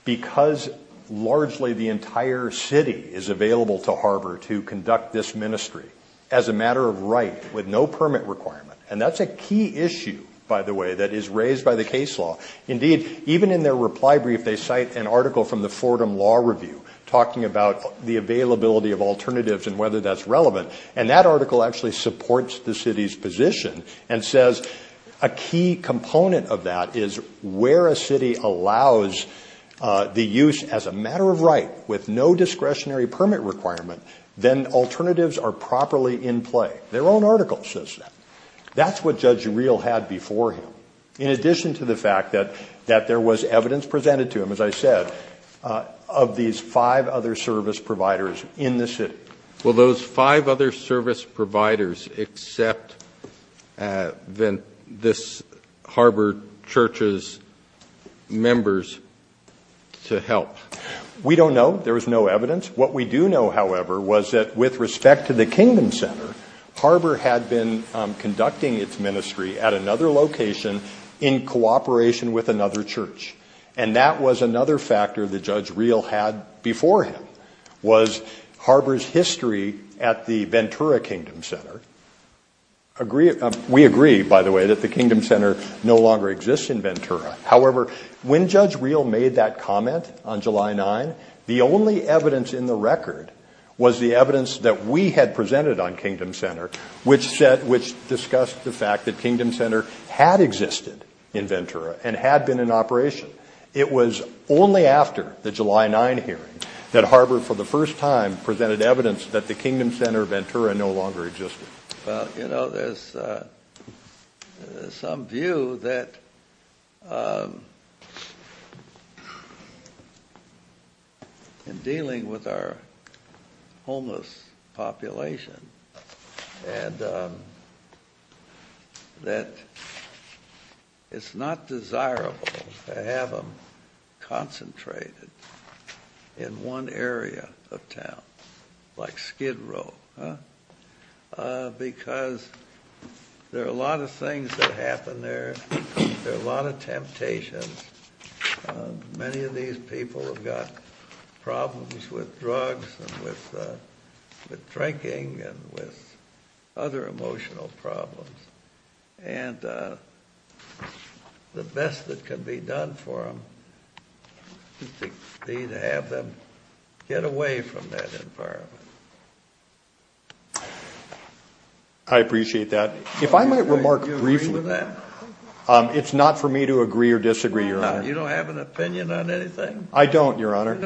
because largely the entire city is available to Harbor to conduct this ministry as a matter of right with no permit requirement. And that's a key issue, by the way, that is raised by the case law. Indeed, even in their reply brief they cite an article from the Fordham Law Review talking about the availability of alternatives and whether that's relevant. And that article actually supports the city's position and says a key component of that is where a city allows the use as a matter of right with no discretionary permit requirement, then alternatives are properly in play. Their own article says that. That's what Judge Reel had before him. In addition to the fact that there was evidence presented to him, as I said, of these five other service providers in the city. Well, those five other service providers accept this Harbor Church's members to help. We don't know. There is no evidence. What we do know, however, was that with respect to the Kingman Center, Harbor had been conducting its ministry at another location in cooperation with another church. And that was another factor that Judge Reel had before him was Harbor's history at the Ventura Kingdom Center. We agree, by the way, that the Kingdom Center no longer exists in Ventura. However, when Judge Reel made that comment on July 9, the only evidence in the record was the evidence that we had presented on Kingdom Center, which discussed the fact that Kingdom Center had existed in Ventura and had been in operation. It was only after the July 9 hearing that Harbor for the first time presented evidence that the Kingdom Center Ventura no longer existed. You know, there's some view that in dealing with our homeless population, and that it's not desirable to have them concentrated in one area of town, like Skid Row, because there are a lot of things that happen there. There are a lot of temptations. Many of these people have got problems with drugs and with drinking and with other emotional problems. And the best that can be done for them is to have them get away from that environment. I appreciate that. If I might remark briefly, it's not for me to agree or disagree, Your Honor. You don't have an opinion on anything? I don't, Your Honor.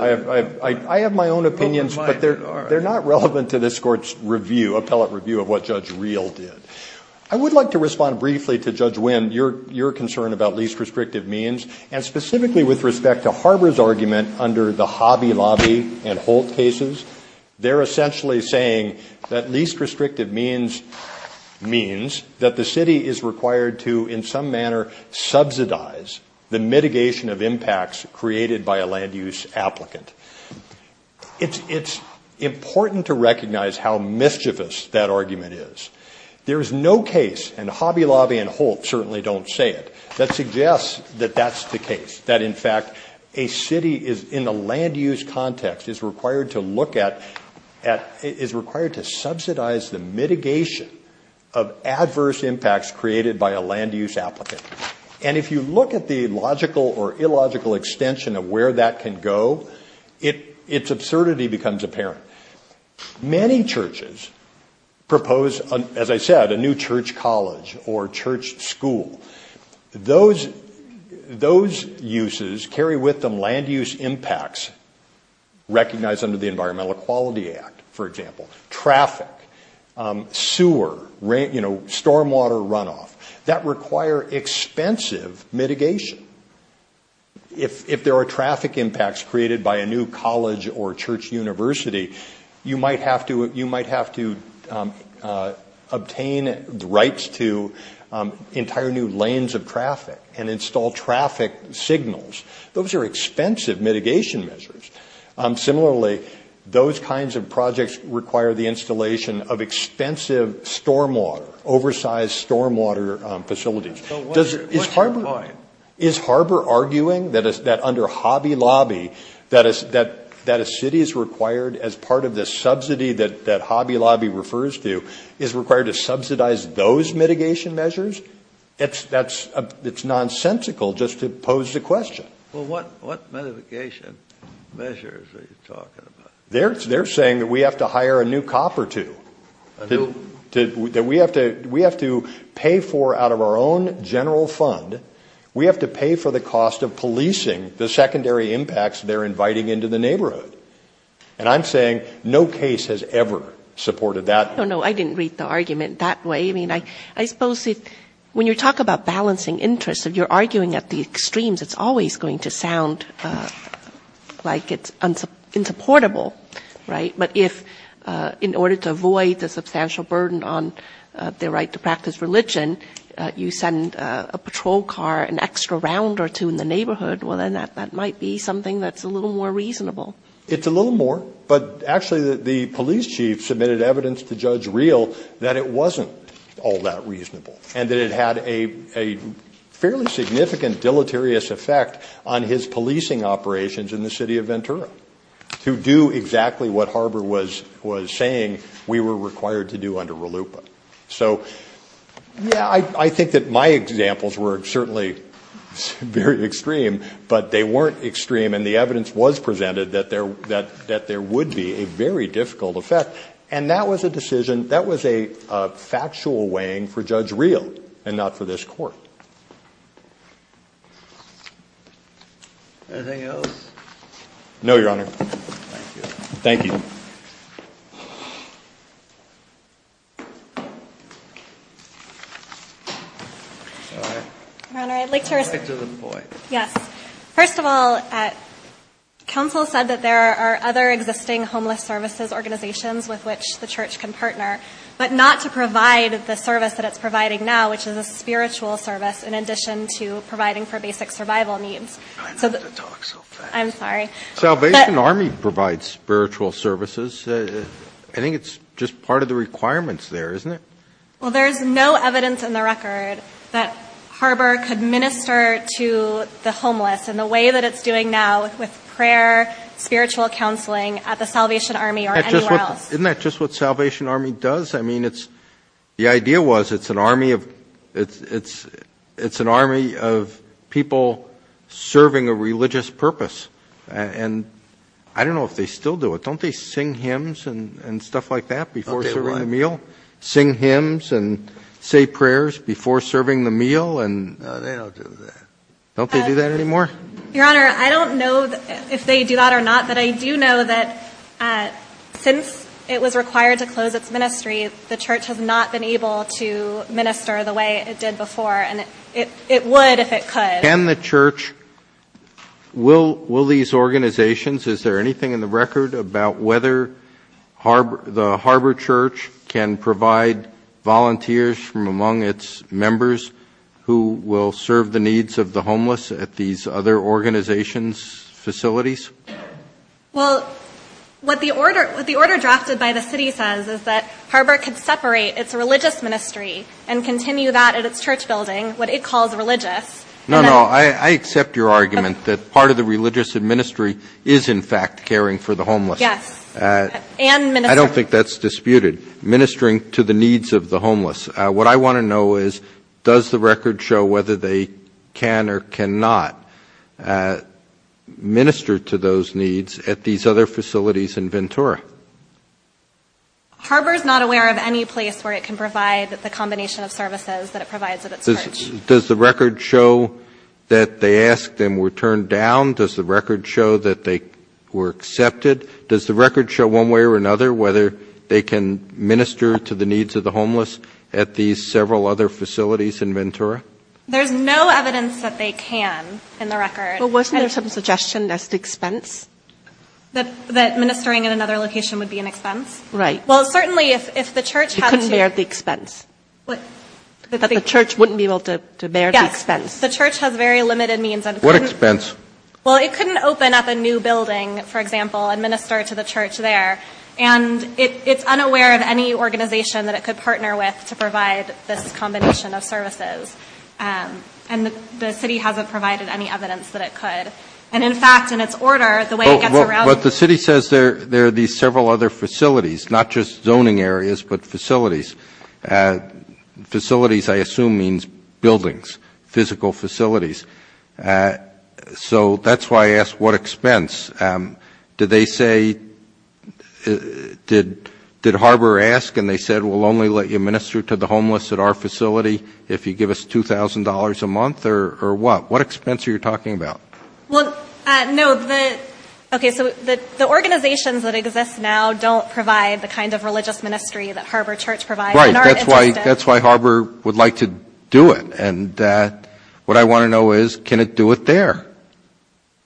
I have my own opinions, but they're not relevant to this Court's review, appellate review, of what Judge Reel did. I would like to respond briefly to Judge Wind, your concern about least restrictive means, and specifically with respect to Harbor's argument under the Hobby Lobby and Holt cases. They're essentially saying that least restrictive means means that the city is required to, in some manner, subsidize the mitigation of impacts created by a land use applicant. It's important to recognize how mischievous that argument is. There is no case, and Hobby Lobby and Holt certainly don't say it, that suggests that that's the case. That, in fact, a city, in a land use context, is required to subsidize the mitigation of adverse impacts created by a land use applicant. And if you look at the logical or illogical extension of where that can go, its absurdity becomes apparent. Many churches propose, as I said, a new church college or church school. Those uses carry with them land use impacts recognized under the Environmental Equality Act, for example. Traffic, sewer, stormwater runoff, that require expensive mitigation. If there are traffic impacts created by a new college or church university, you might have to obtain rights to entire new lanes of traffic and install traffic signals. Those are expensive mitigation measures. Similarly, those kinds of projects require the installation of expensive stormwater, oversized stormwater facilities. Is Harbor arguing that under Hobby Lobby, that a city is required, as part of the subsidy that Hobby Lobby refers to, is required to subsidize those mitigation measures? It's nonsensical just to pose the question. Well, what mitigation measures are you talking about? They're saying that we have to hire a new cop or two, that we have to pay for, out of our own general fund, we have to pay for the cost of policing the secondary impacts they're inviting into the neighborhood. And I'm saying no case has ever supported that. Oh, no, I didn't read the argument that way. When you talk about balancing interests, if you're arguing at the extremes, it's always going to sound like it's insupportable. But if, in order to avoid the substantial burden on the right to practice religion, you send a patrol car, an extra round or two in the neighborhood, well then that might be something that's a little more reasonable. It's a little more. But actually, the police chief submitted evidence to Judge Real that it wasn't all that reasonable, and that it had a fairly significant deleterious effect on his policing operations in the city of Ventura, to do exactly what Harbor was saying we were required to do under RLUIPA. So, yeah, I think that my examples were certainly very extreme, but they weren't extreme, and the evidence was presented that there would be a very difficult effect. And that was a decision, that was a factual weighing for Judge Real, and not for this court. Anything else? No, Your Honor. Thank you. Your Honor, I'd like to reply. Yes. First of all, counsel said that there are other existing homeless services organizations with which the church can partner, but not to provide the service that it's providing now, which is a spiritual service, in addition to providing for basic survival needs. I'm sorry. Salvation Army provides spiritual services. I think it's just part of the requirements there, isn't it? Well, there's no evidence in the record that Harbor could minister to the homeless in the way that it's doing now with prayer, spiritual counseling at the Salvation Army or anywhere else. Isn't that just what Salvation Army does? I mean, the idea was it's an army of people serving a religious purpose. And I don't know if they still do it. Don't they sing hymns and stuff like that before serving a meal? Sing hymns and say prayers before serving the meal? Don't they do that anymore? Your Honor, I don't know if they do that or not, but I do know that since it was required to close its ministries, the church has not been able to minister the way it did before, and it would if it could. Can the church, will these organizations, is there anything in the record about whether the Harbor Church can provide volunteers from among its members who will serve the needs of the homeless at these other organizations' facilities? Well, what the order drafted by the city says is that Harbor could separate its religious ministry and continue that at its church building, what it calls religious. No, no, I accept your argument that part of the religious ministry is, in fact, caring for the homeless. Yes, and ministering. I don't think that's disputed, ministering to the needs of the homeless. What I want to know is does the record show whether they can or cannot minister to those needs at these other facilities in Ventura? Harbor is not aware of any place where it can provide the combination of services that it provides at its church. Does the record show that they asked and were turned down? Does the record show that they were accepted? Does the record show one way or another whether they can minister to the needs of the homeless at these several other facilities in Ventura? There's no evidence that they can in the record. Well, wasn't there some suggestion that's the expense? That ministering at another location would be an expense? Right. It couldn't bear the expense. The church wouldn't be able to bear the expense. Yes, the church has very limited means. What expense? Well, it couldn't open up a new building, for example, and minister to the church there. And it's unaware of any organization that it could partner with to provide this combination of services. And the city hasn't provided any evidence that it could. And, in fact, in its order, the way it gets around the city says there are these several other facilities, not just zoning areas but facilities. Facilities, I assume, means buildings, physical facilities. So that's why I asked what expense. Did they say, did Harbor ask and they said, we'll only let you minister to the homeless at our facility if you give us $2,000 a month or what? What expense are you talking about? Well, no. Okay, so the organizations that exist now don't provide the kind of religious ministry that Harbor Church provides. Right. That's why Harbor would like to do it. And what I want to know is, can it do it there?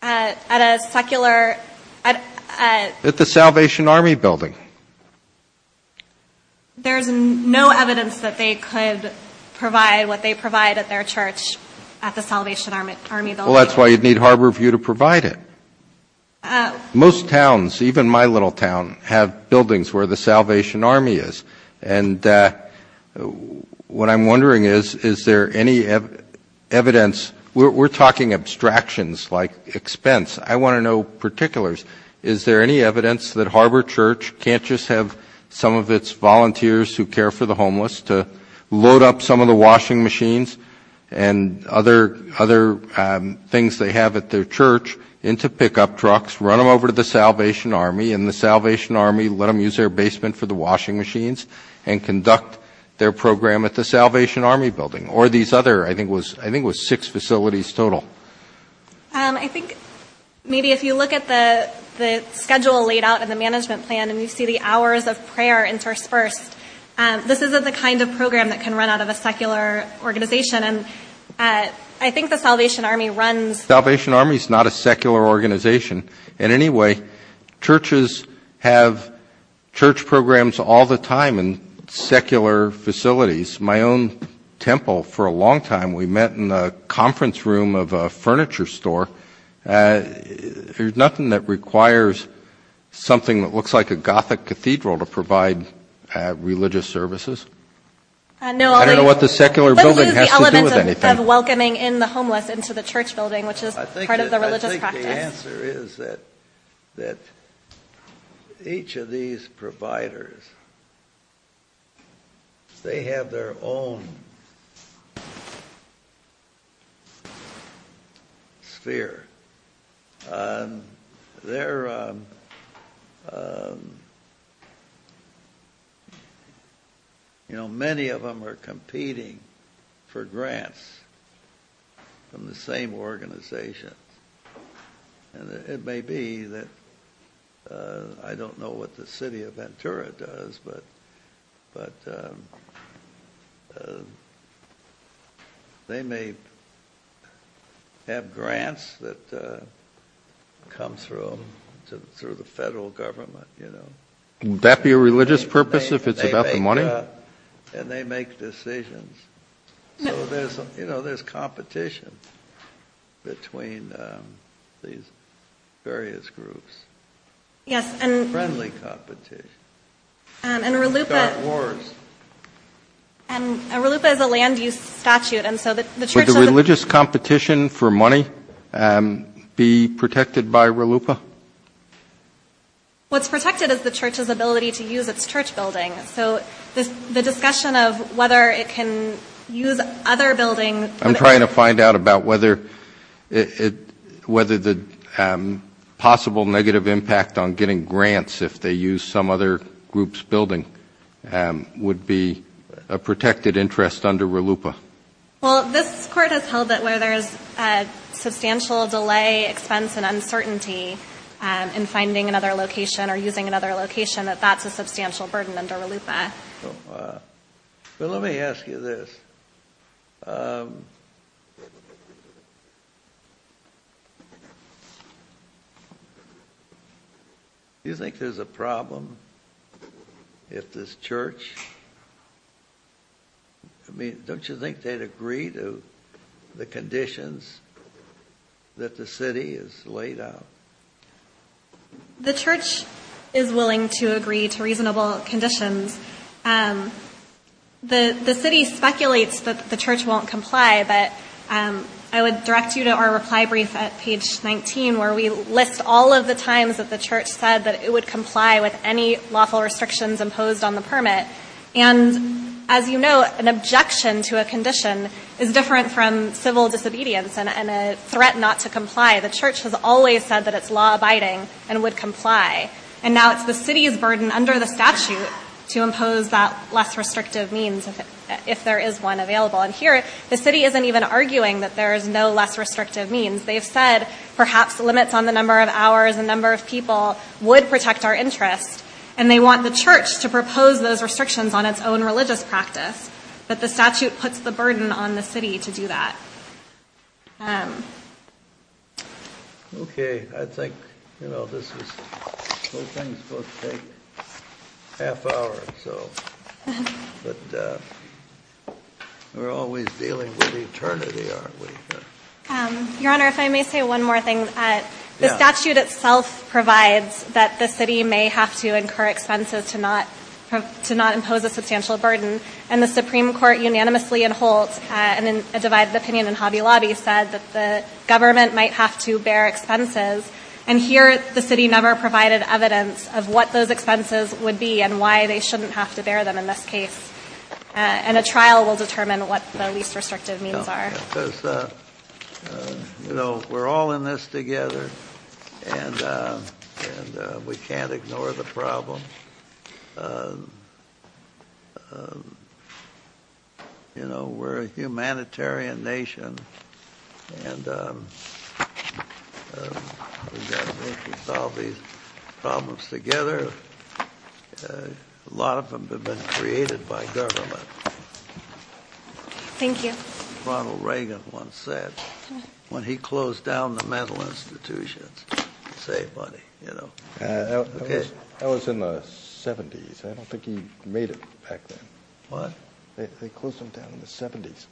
At a secular – At the Salvation Army building. There's no evidence that they could provide what they provide at their church at the Salvation Army building. Well, that's why you'd need Harborview to provide it. Most towns, even my little town, have buildings where the Salvation Army is. And what I'm wondering is, is there any evidence? We're talking abstractions like expense. I want to know particulars. Is there any evidence that Harbor Church can't just have some of its volunteers who care for the homeless to load up some of the washing machines and other things they have at their church into pickup trucks, run them over to the Salvation Army, and the Salvation Army let them use their basement for the washing machines and conduct their program at the Salvation Army building? Or these other – I think it was six facilities total. I think maybe if you look at the schedule laid out in the management plan and you see the hours of prayer in first verse, this is the kind of program that can run out of a secular organization. And I think the Salvation Army runs – The Salvation Army is not a secular organization. In any way, churches have church programs all the time in secular facilities. My own temple, for a long time, we met in the conference room of a furniture store. There's nothing that requires something that looks like a Gothic cathedral to provide religious services? I don't know what the secular building has to do with anything. What is the element of welcoming in the homeless into the church building, which is part of the religious process? The answer is that each of these providers, they have their own sphere. They're – many of them are competing for grants from the same organization. It may be that – I don't know what the city of Ventura does, but they may have grants that come through the federal government. Can that be a religious purpose if it's about the money? And they make decisions. You know, there's competition between these various groups. Friendly competition. And RLUIPA is a land-use statute. Would the religious competition for money be protected by RLUIPA? What's protected is the church's ability to use its church building. So the discussion of whether it can use other buildings. I'm trying to find out about whether the possible negative impact on getting grants if they use some other group's building would be a protected interest under RLUIPA. Well, this part has held that where there's a substantial delay, expense, and uncertainty in finding another location or using another location, that that's a substantial burden under RLUIPA. Let me ask you this. Do you think there's a problem with this church? I mean, don't you think they'd agree to the conditions that the city has laid out? The church is willing to agree to reasonable conditions. The city speculates that the church won't comply, but I would direct you to our reply brief at page 19, where we list all of the times that the church said that it would comply with any lawful restrictions imposed on the permit. And as you know, an objection to a condition is different from civil disobedience and a threat not to comply. The church has always said that it's law-abiding and would comply. And now it's the city's burden under the statute to impose that less restrictive means if there is one available. And here, the city isn't even arguing that there is no less restrictive means. They've said perhaps limits on the number of hours, the number of people, would protect our interests, and they want the church to propose those restrictions on its own religious practice. But the statute puts the burden on the city to do that. Okay. I think, you know, this is supposed to take a half hour or so. But we're always dealing with eternity, aren't we? Your Honor, if I may say one more thing. The statute itself provides that the city may have to incur expenses to not impose a substantial burden. And the Supreme Court unanimously in Holt, and in a divided opinion in Hobby Lobby, said that the government might have to bear expenses. And here, the city never provided evidence of what those expenses would be and why they shouldn't have to bear them in this case. And a trial will determine what the least restrictive means are. Yeah, because, you know, we're all in this together, and we can't ignore the problems. You know, we're a humanitarian nation, and we've got to make sure we solve these problems together. A lot of them have been created by government. Thank you. As Ronald Reagan once said, when he closed down the mental institution, save money, you know. That was in the 70s. I don't think he made it back then. What? They closed it down in the 70s.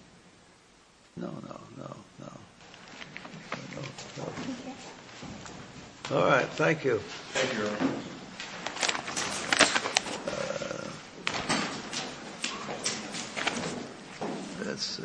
No, no, no, no. All right. Thank you. Thank you, Your Honor. Let's see.